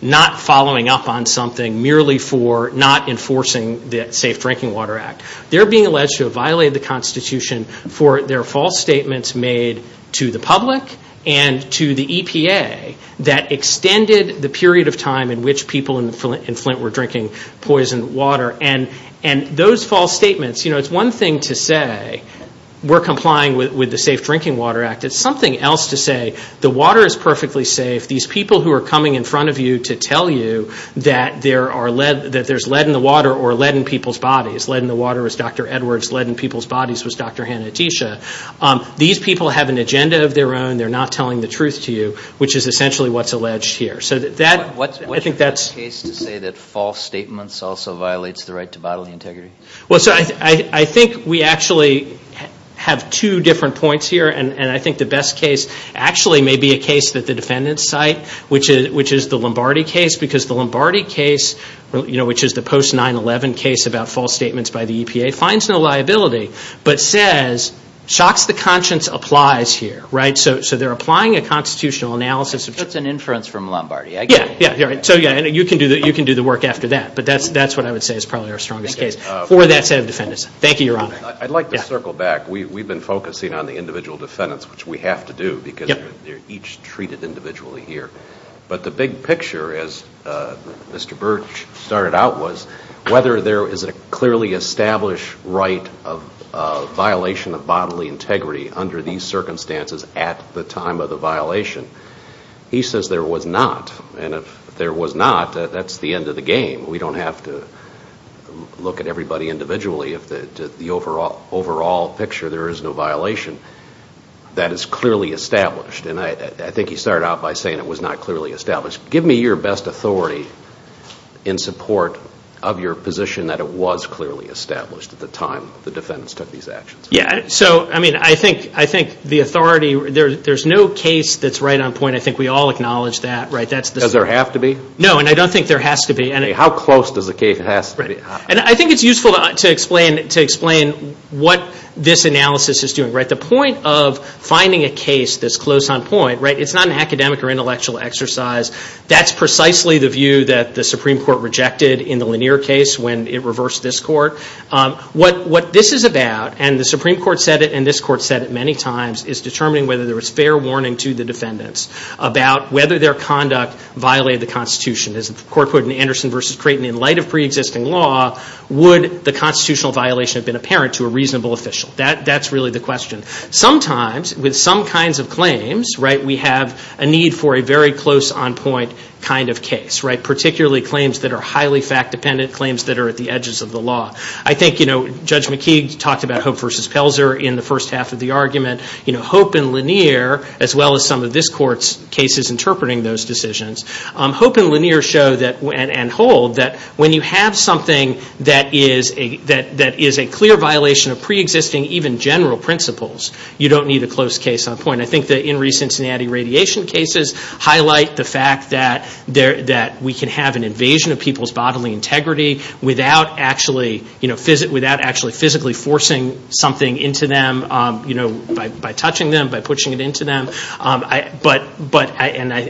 not following up on something, merely for not enforcing the Safe Drinking Water Act. They're being alleged to have violated the Constitution for their false statements made to the public and to the EPA that extended the period of time in which people in Flint were drinking poisoned water. And those false statements, you know, it's one thing to say we're complying with the Safe Drinking Water Act. It's something else to say the water is perfectly safe. These people who are coming in front of you to tell you that there's lead in the water or lead in people's bodies. Lead in the water was Dr. Edwards. Lead in people's bodies was Dr. Hanna-Attisha. These people have an agenda of their own. They're not telling the truth to you, which is essentially what's alleged here. What's the best case to say that false statements also violate the right to bodily integrity? I think we actually have two different points here, and I think the best case actually may be a case that the defendants cite, which is the Lombardi case, because the Lombardi case, which is the post-9-11 case about false statements by the EPA, finds no liability but says, shocks the conscience, applies here. So they're applying a constitutional analysis. That's an inference from Lombardi, I guess. Yeah, so you can do the work after that. But that's what I would say is probably our strongest case for that set of defendants. Thank you, Your Honor. I'd like to circle back. We've been focusing on the individual defendants, which we have to do, because they're each treated individually here. But the big picture, as Mr. Birch started out, was whether there is a clearly established right of violation of bodily integrity under these circumstances at the time of the violation. He says there was not, and if there was not, that's the end of the game. We don't have to look at everybody individually. If the overall picture, there is no violation, that is clearly established. And I think he started out by saying it was not clearly established. Give me your best authority in support of your position that it was clearly established at the time the defendants took these actions. Yeah, so I think the authority, there's no case that's right on point. I think we all acknowledge that. Does there have to be? No, and I don't think there has to be. How close does the case have to be? I think it's useful to explain what this analysis is doing. The point of finding a case that's close on point, it's not an academic or intellectual exercise. That's precisely the view that the Supreme Court rejected in the Lanier case when it reversed this court. What this is about, and the Supreme Court said it and this court said it many times, is determining whether there was fair warning to the defendants about whether their conduct violated the Constitution. As the court put it in Anderson v. Creighton, in light of preexisting law, would the constitutional violation have been apparent to a reasonable official? That's really the question. Sometimes, with some kinds of claims, we have a need for a very close on point kind of case, particularly claims that are highly fact-dependent, or claims that are at the edges of the law. I think Judge McKeague talked about Hope v. Felser in the first half of the argument. Hope and Lanier, as well as some of this court's cases interpreting those decisions, Hope and Lanier show and hold that when you have something that is a clear violation of preexisting, even general principles, you don't need a close case on point. I think that in recent anti-irradiation cases, highlight the fact that we can have an invasion of people's bodily integrity without actually physically forcing something into them by touching them, by pushing it into them.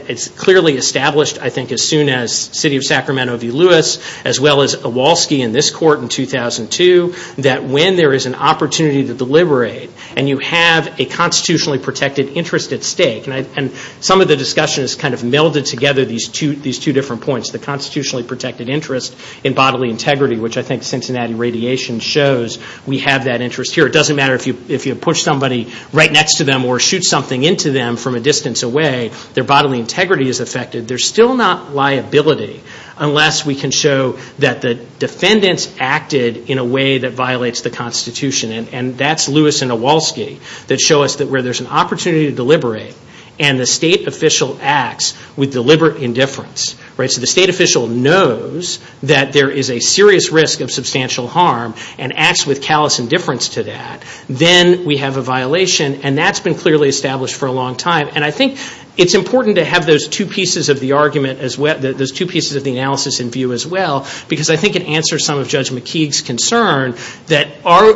It's clearly established, I think, as soon as the city of Sacramento v. Lewis, as well as Awalski in this court in 2002, that when there is an opportunity to deliberate and you have a constitutionally protected interest at stake, and some of the discussion has kind of melded together these two different points, the constitutionally protected interest in bodily integrity, which I think Cincinnati radiation shows we have that interest here. It doesn't matter if you push somebody right next to them or shoot something into them from a distance away, their bodily integrity is affected. There's still not liability unless we can show that the defendants acted in a way that violates the Constitution, and that's Lewis and Awalski, that show us that where there's an opportunity to deliberate and the state official acts with deliberate indifference. So the state official knows that there is a serious risk of substantial harm and acts with callous indifference to that. Then we have a violation, and that's been clearly established for a long time. I think it's important to have those two pieces of the argument as well, those two pieces of the analysis in view as well, because I think it answers some of Judge McKeague's concern that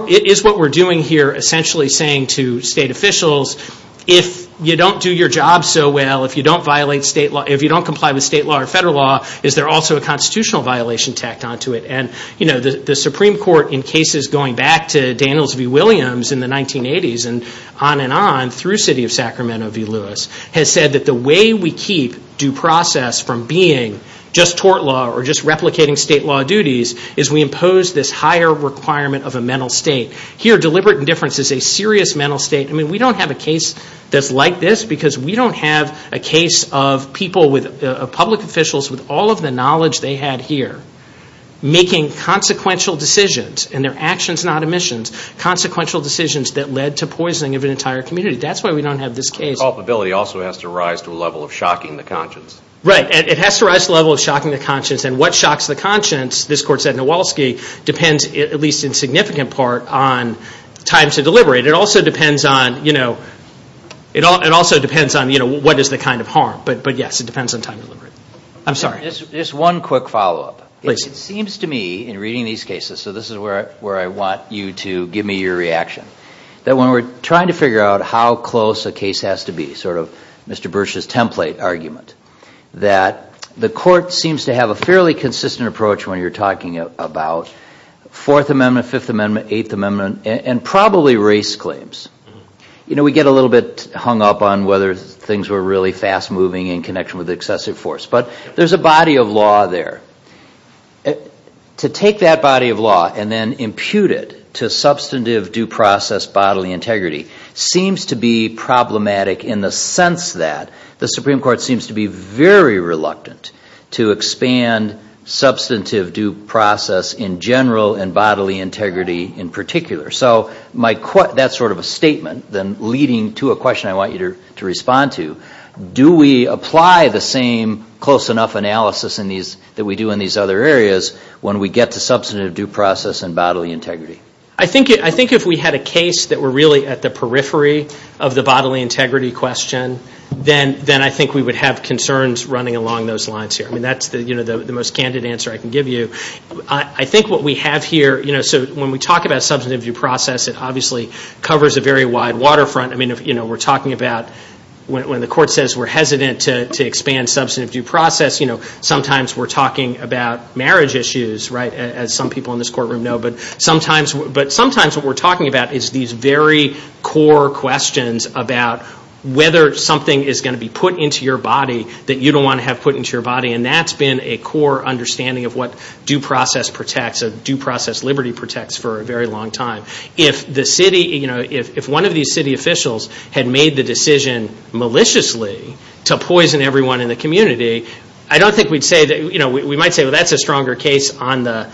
it is what we're doing here essentially saying to state officials, if you don't do your job so well, if you don't violate state law, if you don't comply with state law or federal law, is there also a constitutional violation tacked onto it? The Supreme Court in cases going back to Daniels v. Williams in the 1980s and on and on through the city of Sacramento v. Lewis has said that the way we keep due process from being just tort law or just replicating state law duties is we impose this higher requirement of a mental state. Here deliberate indifference is a serious mental state. I mean we don't have a case that's like this because we don't have a case of public officials with all of the knowledge they had here making consequential decisions, and they're actions not omissions, consequential decisions that led to poisoning of an entire community. That's why we don't have this case. The culpability also has to rise to a level of shocking the conscience. Right. It has to rise to a level of shocking the conscience, and what shocks the conscience, this court said in Nowalski, depends at least in significant part on time to deliberate. It also depends on what is the kind of harm, but yes, it depends on time to deliberate. I'm sorry. Just one quick follow-up. Please. It seems to me in reading these cases, so this is where I want you to give me your reaction, that when we're trying to figure out how close a case has to be, this is sort of Mr. Burch's template argument, that the court seems to have a fairly consistent approach when you're talking about Fourth Amendment, Fifth Amendment, Eighth Amendment, and probably race claims. We get a little bit hung up on whether things were really fast-moving in connection with excessive force, but there's a body of law there. To take that body of law and then impute it to substantive due process bodily integrity seems to be problematic in the sense that the Supreme Court seems to be very reluctant to expand substantive due process in general and bodily integrity in particular. So that's sort of a statement leading to a question I want you to respond to. Do we apply the same close enough analysis that we do in these other areas when we get to substantive due process and bodily integrity? I think if we had a case that were really at the periphery of the bodily integrity question, then I think we would have concerns running along those lines here. That's the most candid answer I can give you. I think what we have here, when we talk about substantive due process, it obviously covers a very wide waterfront. We're talking about when the court says we're hesitant to expand substantive due process, sometimes we're talking about marriage issues, as some people in this courtroom know, but sometimes what we're talking about is these very core questions about whether something is going to be put into your body that you don't want to have put into your body, and that's been a core understanding of what due process protects or due process liberty protects for a very long time. If one of these city officials had made the decision maliciously to poison everyone in the community, I don't think we'd say that's a stronger case on the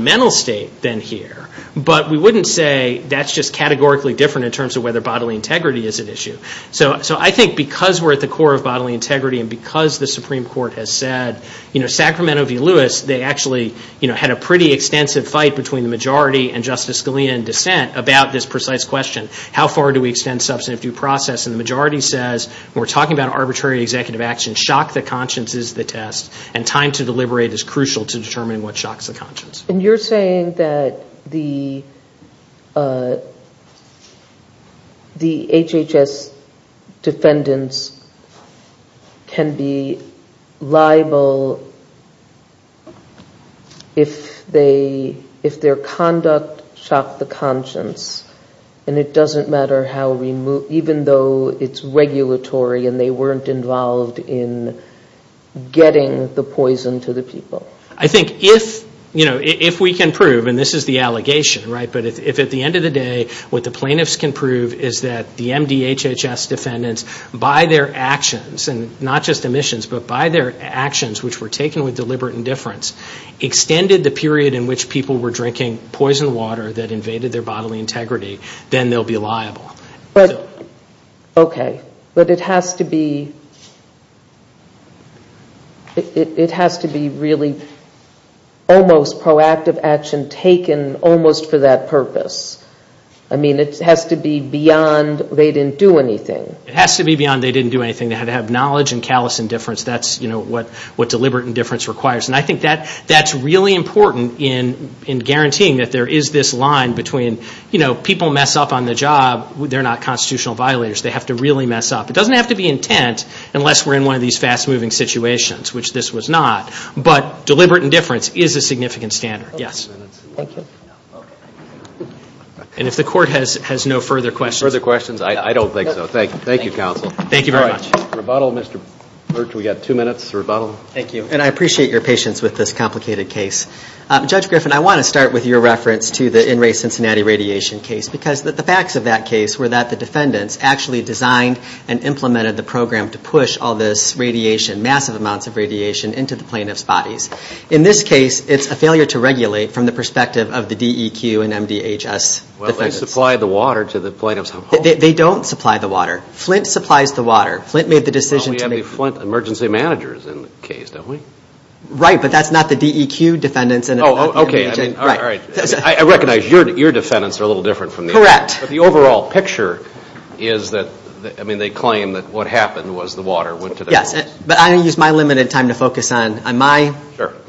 mental state than here, but we wouldn't say that's just categorically different in terms of whether bodily integrity is an issue. I think because we're at the core of bodily integrity and because the Supreme Court has said, Sacramento v. Lewis, they actually had a pretty extensive fight between the majority and Justice Scalia in dissent about this precise question, how far do we extend substantive due process? And the majority says, when we're talking about arbitrary executive action, shock the conscience is the test, and time to deliberate is crucial to determine what shocks the conscience. And you're saying that the HHS defendants can be liable if their conduct shocked the conscience, and it doesn't matter how even though it's regulatory and they weren't involved in getting the poison to the people. I think if we can prove, and this is the allegation, but if at the end of the day what the plaintiffs can prove is that the MDHHS defendants, by their actions, and not just omissions, but by their actions, which were taken with deliberate indifference, extended the period in which people were drinking poison water that invaded their bodily integrity, then they'll be liable. Okay, but it has to be really almost proactive action taken almost for that purpose. I mean, it has to be beyond they didn't do anything. It has to be beyond they didn't do anything. They had to have knowledge and callous indifference. That's what deliberate indifference requires. And I think that's really important in guaranteeing that there is this line between people mess up on the job. They're not constitutional violators. They have to really mess up. It doesn't have to be intent unless we're in one of these fast-moving situations, which this was not. But deliberate indifference is a significant standard, yes. And if the court has no further questions. Further questions? I don't think so. Thank you, counsel. Thank you very much. Mr. Vottle. Thank you. And I appreciate your patience with this complicated case. Judge Griffin, I want to start with your reference to the in-ray Cincinnati radiation case because the facts of that case were that the defendants actually designed and implemented the program to push all this radiation, massive amounts of radiation, into the plaintiff's bodies. In this case, it's a failure to regulate from the perspective of the DEQ and MDHS. Well, they supply the water to the plaintiffs. They don't supply the water. Flint supplies the water. Flint made the decision. We have the Flint emergency managers in the case, don't we? Right, but that's not the DEQ defendants. Oh, okay. All right. I recognize your defendants are a little different from the others. Correct. But the overall picture is that, I mean, they claim that what happened was the water went to the plaintiffs. Yes, but I'm going to use my limited time to focus on my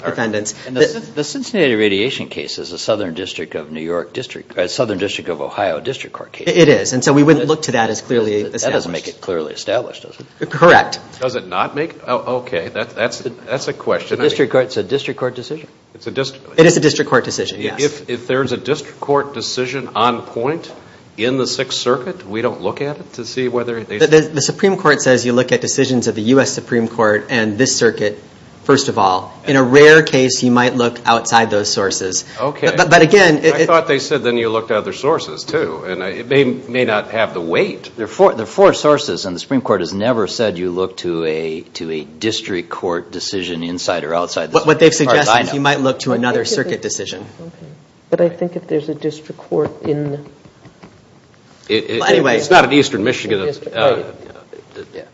defendants. The Cincinnati radiation case is a Southern District of Ohio District Court case. It is, and so we wouldn't look to that as clearly established. That doesn't make it clearly established, does it? Correct. Does it not make it? Okay, that's a question. It's a district court decision? It is a district court decision, yes. If there's a district court decision on point in the Sixth Circuit, we don't look at it to see whether it is? The Supreme Court says you look at decisions of the U.S. Supreme Court and this circuit, first of all. In a rare case, you might look outside those sources. Okay. I thought they said then you looked at other sources, too, and it may not have the weight. There are four sources, and the Supreme Court has never said you look to a district court decision inside or outside. What they're suggesting is you might look to another circuit decision. But I think if there's a district court in? It's not an Eastern Michigan.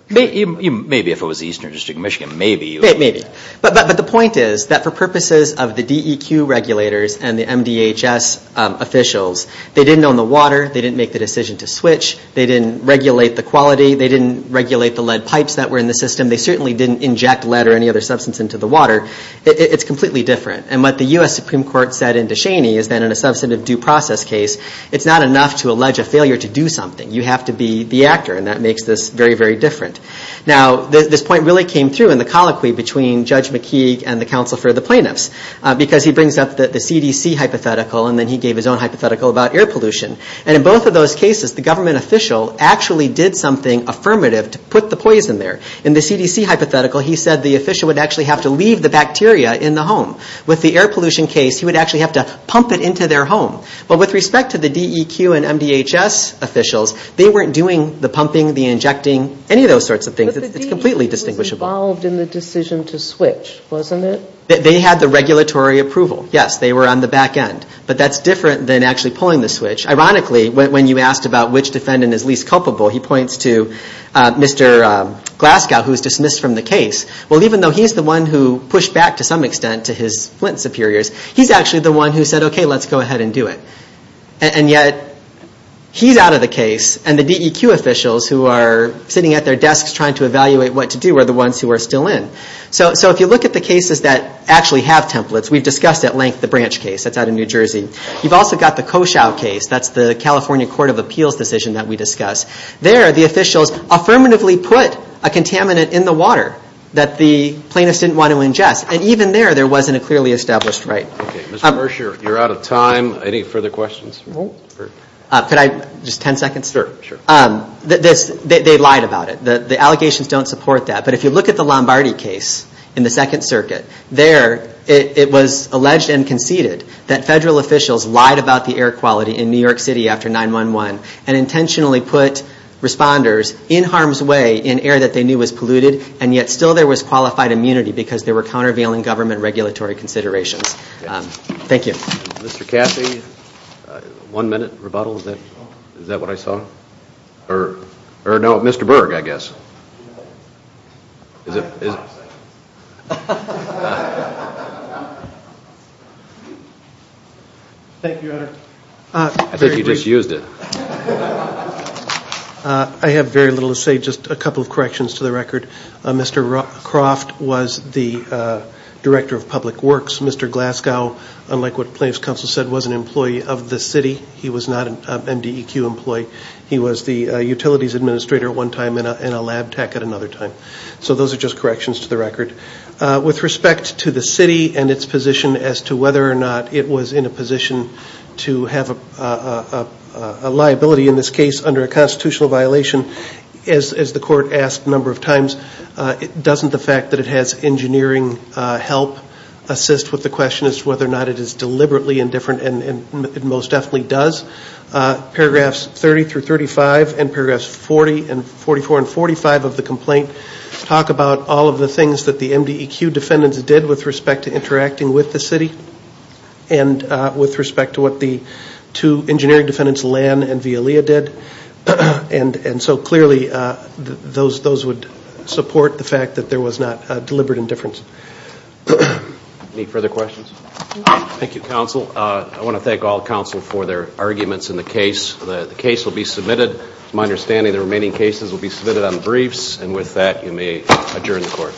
Maybe if it was the Eastern District of Michigan, maybe. Maybe. But the point is that for purposes of the DEQ regulators and the MDHS officials, they didn't own the water. They didn't make the decision to switch. They didn't regulate the quality. They didn't regulate the lead pipes that were in the system. They certainly didn't inject lead or any other substance into the water. It's completely different. And what the U.S. Supreme Court said in Descheny is that in a substantive due process case, it's not enough to allege a failure to do something. You have to be the actor, and that makes this very, very different. Now, this point really came through in the colloquy between Judge McKee and the counsel for the plaintiffs because he brings up the CDC hypothetical, and then he gave his own hypothetical about air pollution. And in both of those cases, the government official actually did something affirmative to put the poison there. In the CDC hypothetical, he said the official would actually have to leave the bacteria in the home. With the air pollution case, he would actually have to pump it into their home. But with respect to the DEQ and MDHS officials, they weren't doing the pumping, the injecting, any of those sorts of things. It's completely distinguishable. But the DEQ was involved in the decision to switch, wasn't it? They had the regulatory approval. Yes, they were on the back end. But that's different than actually pulling the switch. Ironically, when you asked about which defendant is least culpable, he points to Mr. Glasgow, who was dismissed from the case. Well, even though he's the one who pushed back to some extent to his Flint superiors, he's actually the one who said, okay, let's go ahead and do it. And yet, he's out of the case, and the DEQ officials who are sitting at their desks trying to evaluate what to do are the ones who are still in. So if you look at the cases that actually have templates, we've discussed at length the Branch case. That's out of New Jersey. You've also got the Koshow case. That's the California Court of Appeals decision that we discussed. There, the officials affirmatively put a contaminant in the water that the plaintiffs didn't want to ingest. And even there, there wasn't a clearly established right. Okay. Mr. Mercer, you're out of time. Any further questions? No. Could I? Just 10 seconds? Sure. They lied about it. The allegations don't support that. But if you look at the Lombardi case in the Second Circuit, there it was alleged and conceded that federal officials lied about the air quality in New York City after 9-1-1 and intentionally put responders in harm's way in air that they knew was polluted, and yet still there was qualified immunity because there were countervailing government regulatory considerations. Thank you. Mr. Caffey, one minute rebuttal. Is that what I saw? Or no, Mr. Berg, I guess. Is it? Thank you, Your Honor. I think he misused it. I have very little to say, just a couple of corrections to the record. Mr. Croft was the Director of Public Works. Mr. Glasgow, unlike what Plaintiffs' Counsel said, was an employee of the city. He was not an MDEQ employee. He was the Utilities Administrator at one time and a lab tech at another time. So those are just corrections to the record. With respect to the city and its position as to whether or not it was in a position to have a liability, in this case under a constitutional violation, as the Court asked a number of times, doesn't the fact that it has engineering help assist with the question as to whether or not it is deliberately indifferent, and it most definitely does? Paragraphs 30 through 35 and paragraphs 40 and 44 and 45 of the complaint talk about all of the things that the MDEQ defendants did with respect to interacting with the city and with respect to what the two engineering defendants, Lan and Villalea, did. So clearly those would support the fact that there was not deliberate indifference. Any further questions? Thank you, Counsel. I want to thank all Counsel for their arguments in the case. The case will be submitted. From my understanding, the remaining cases will be submitted on briefs. And with that, you may adjourn the Court.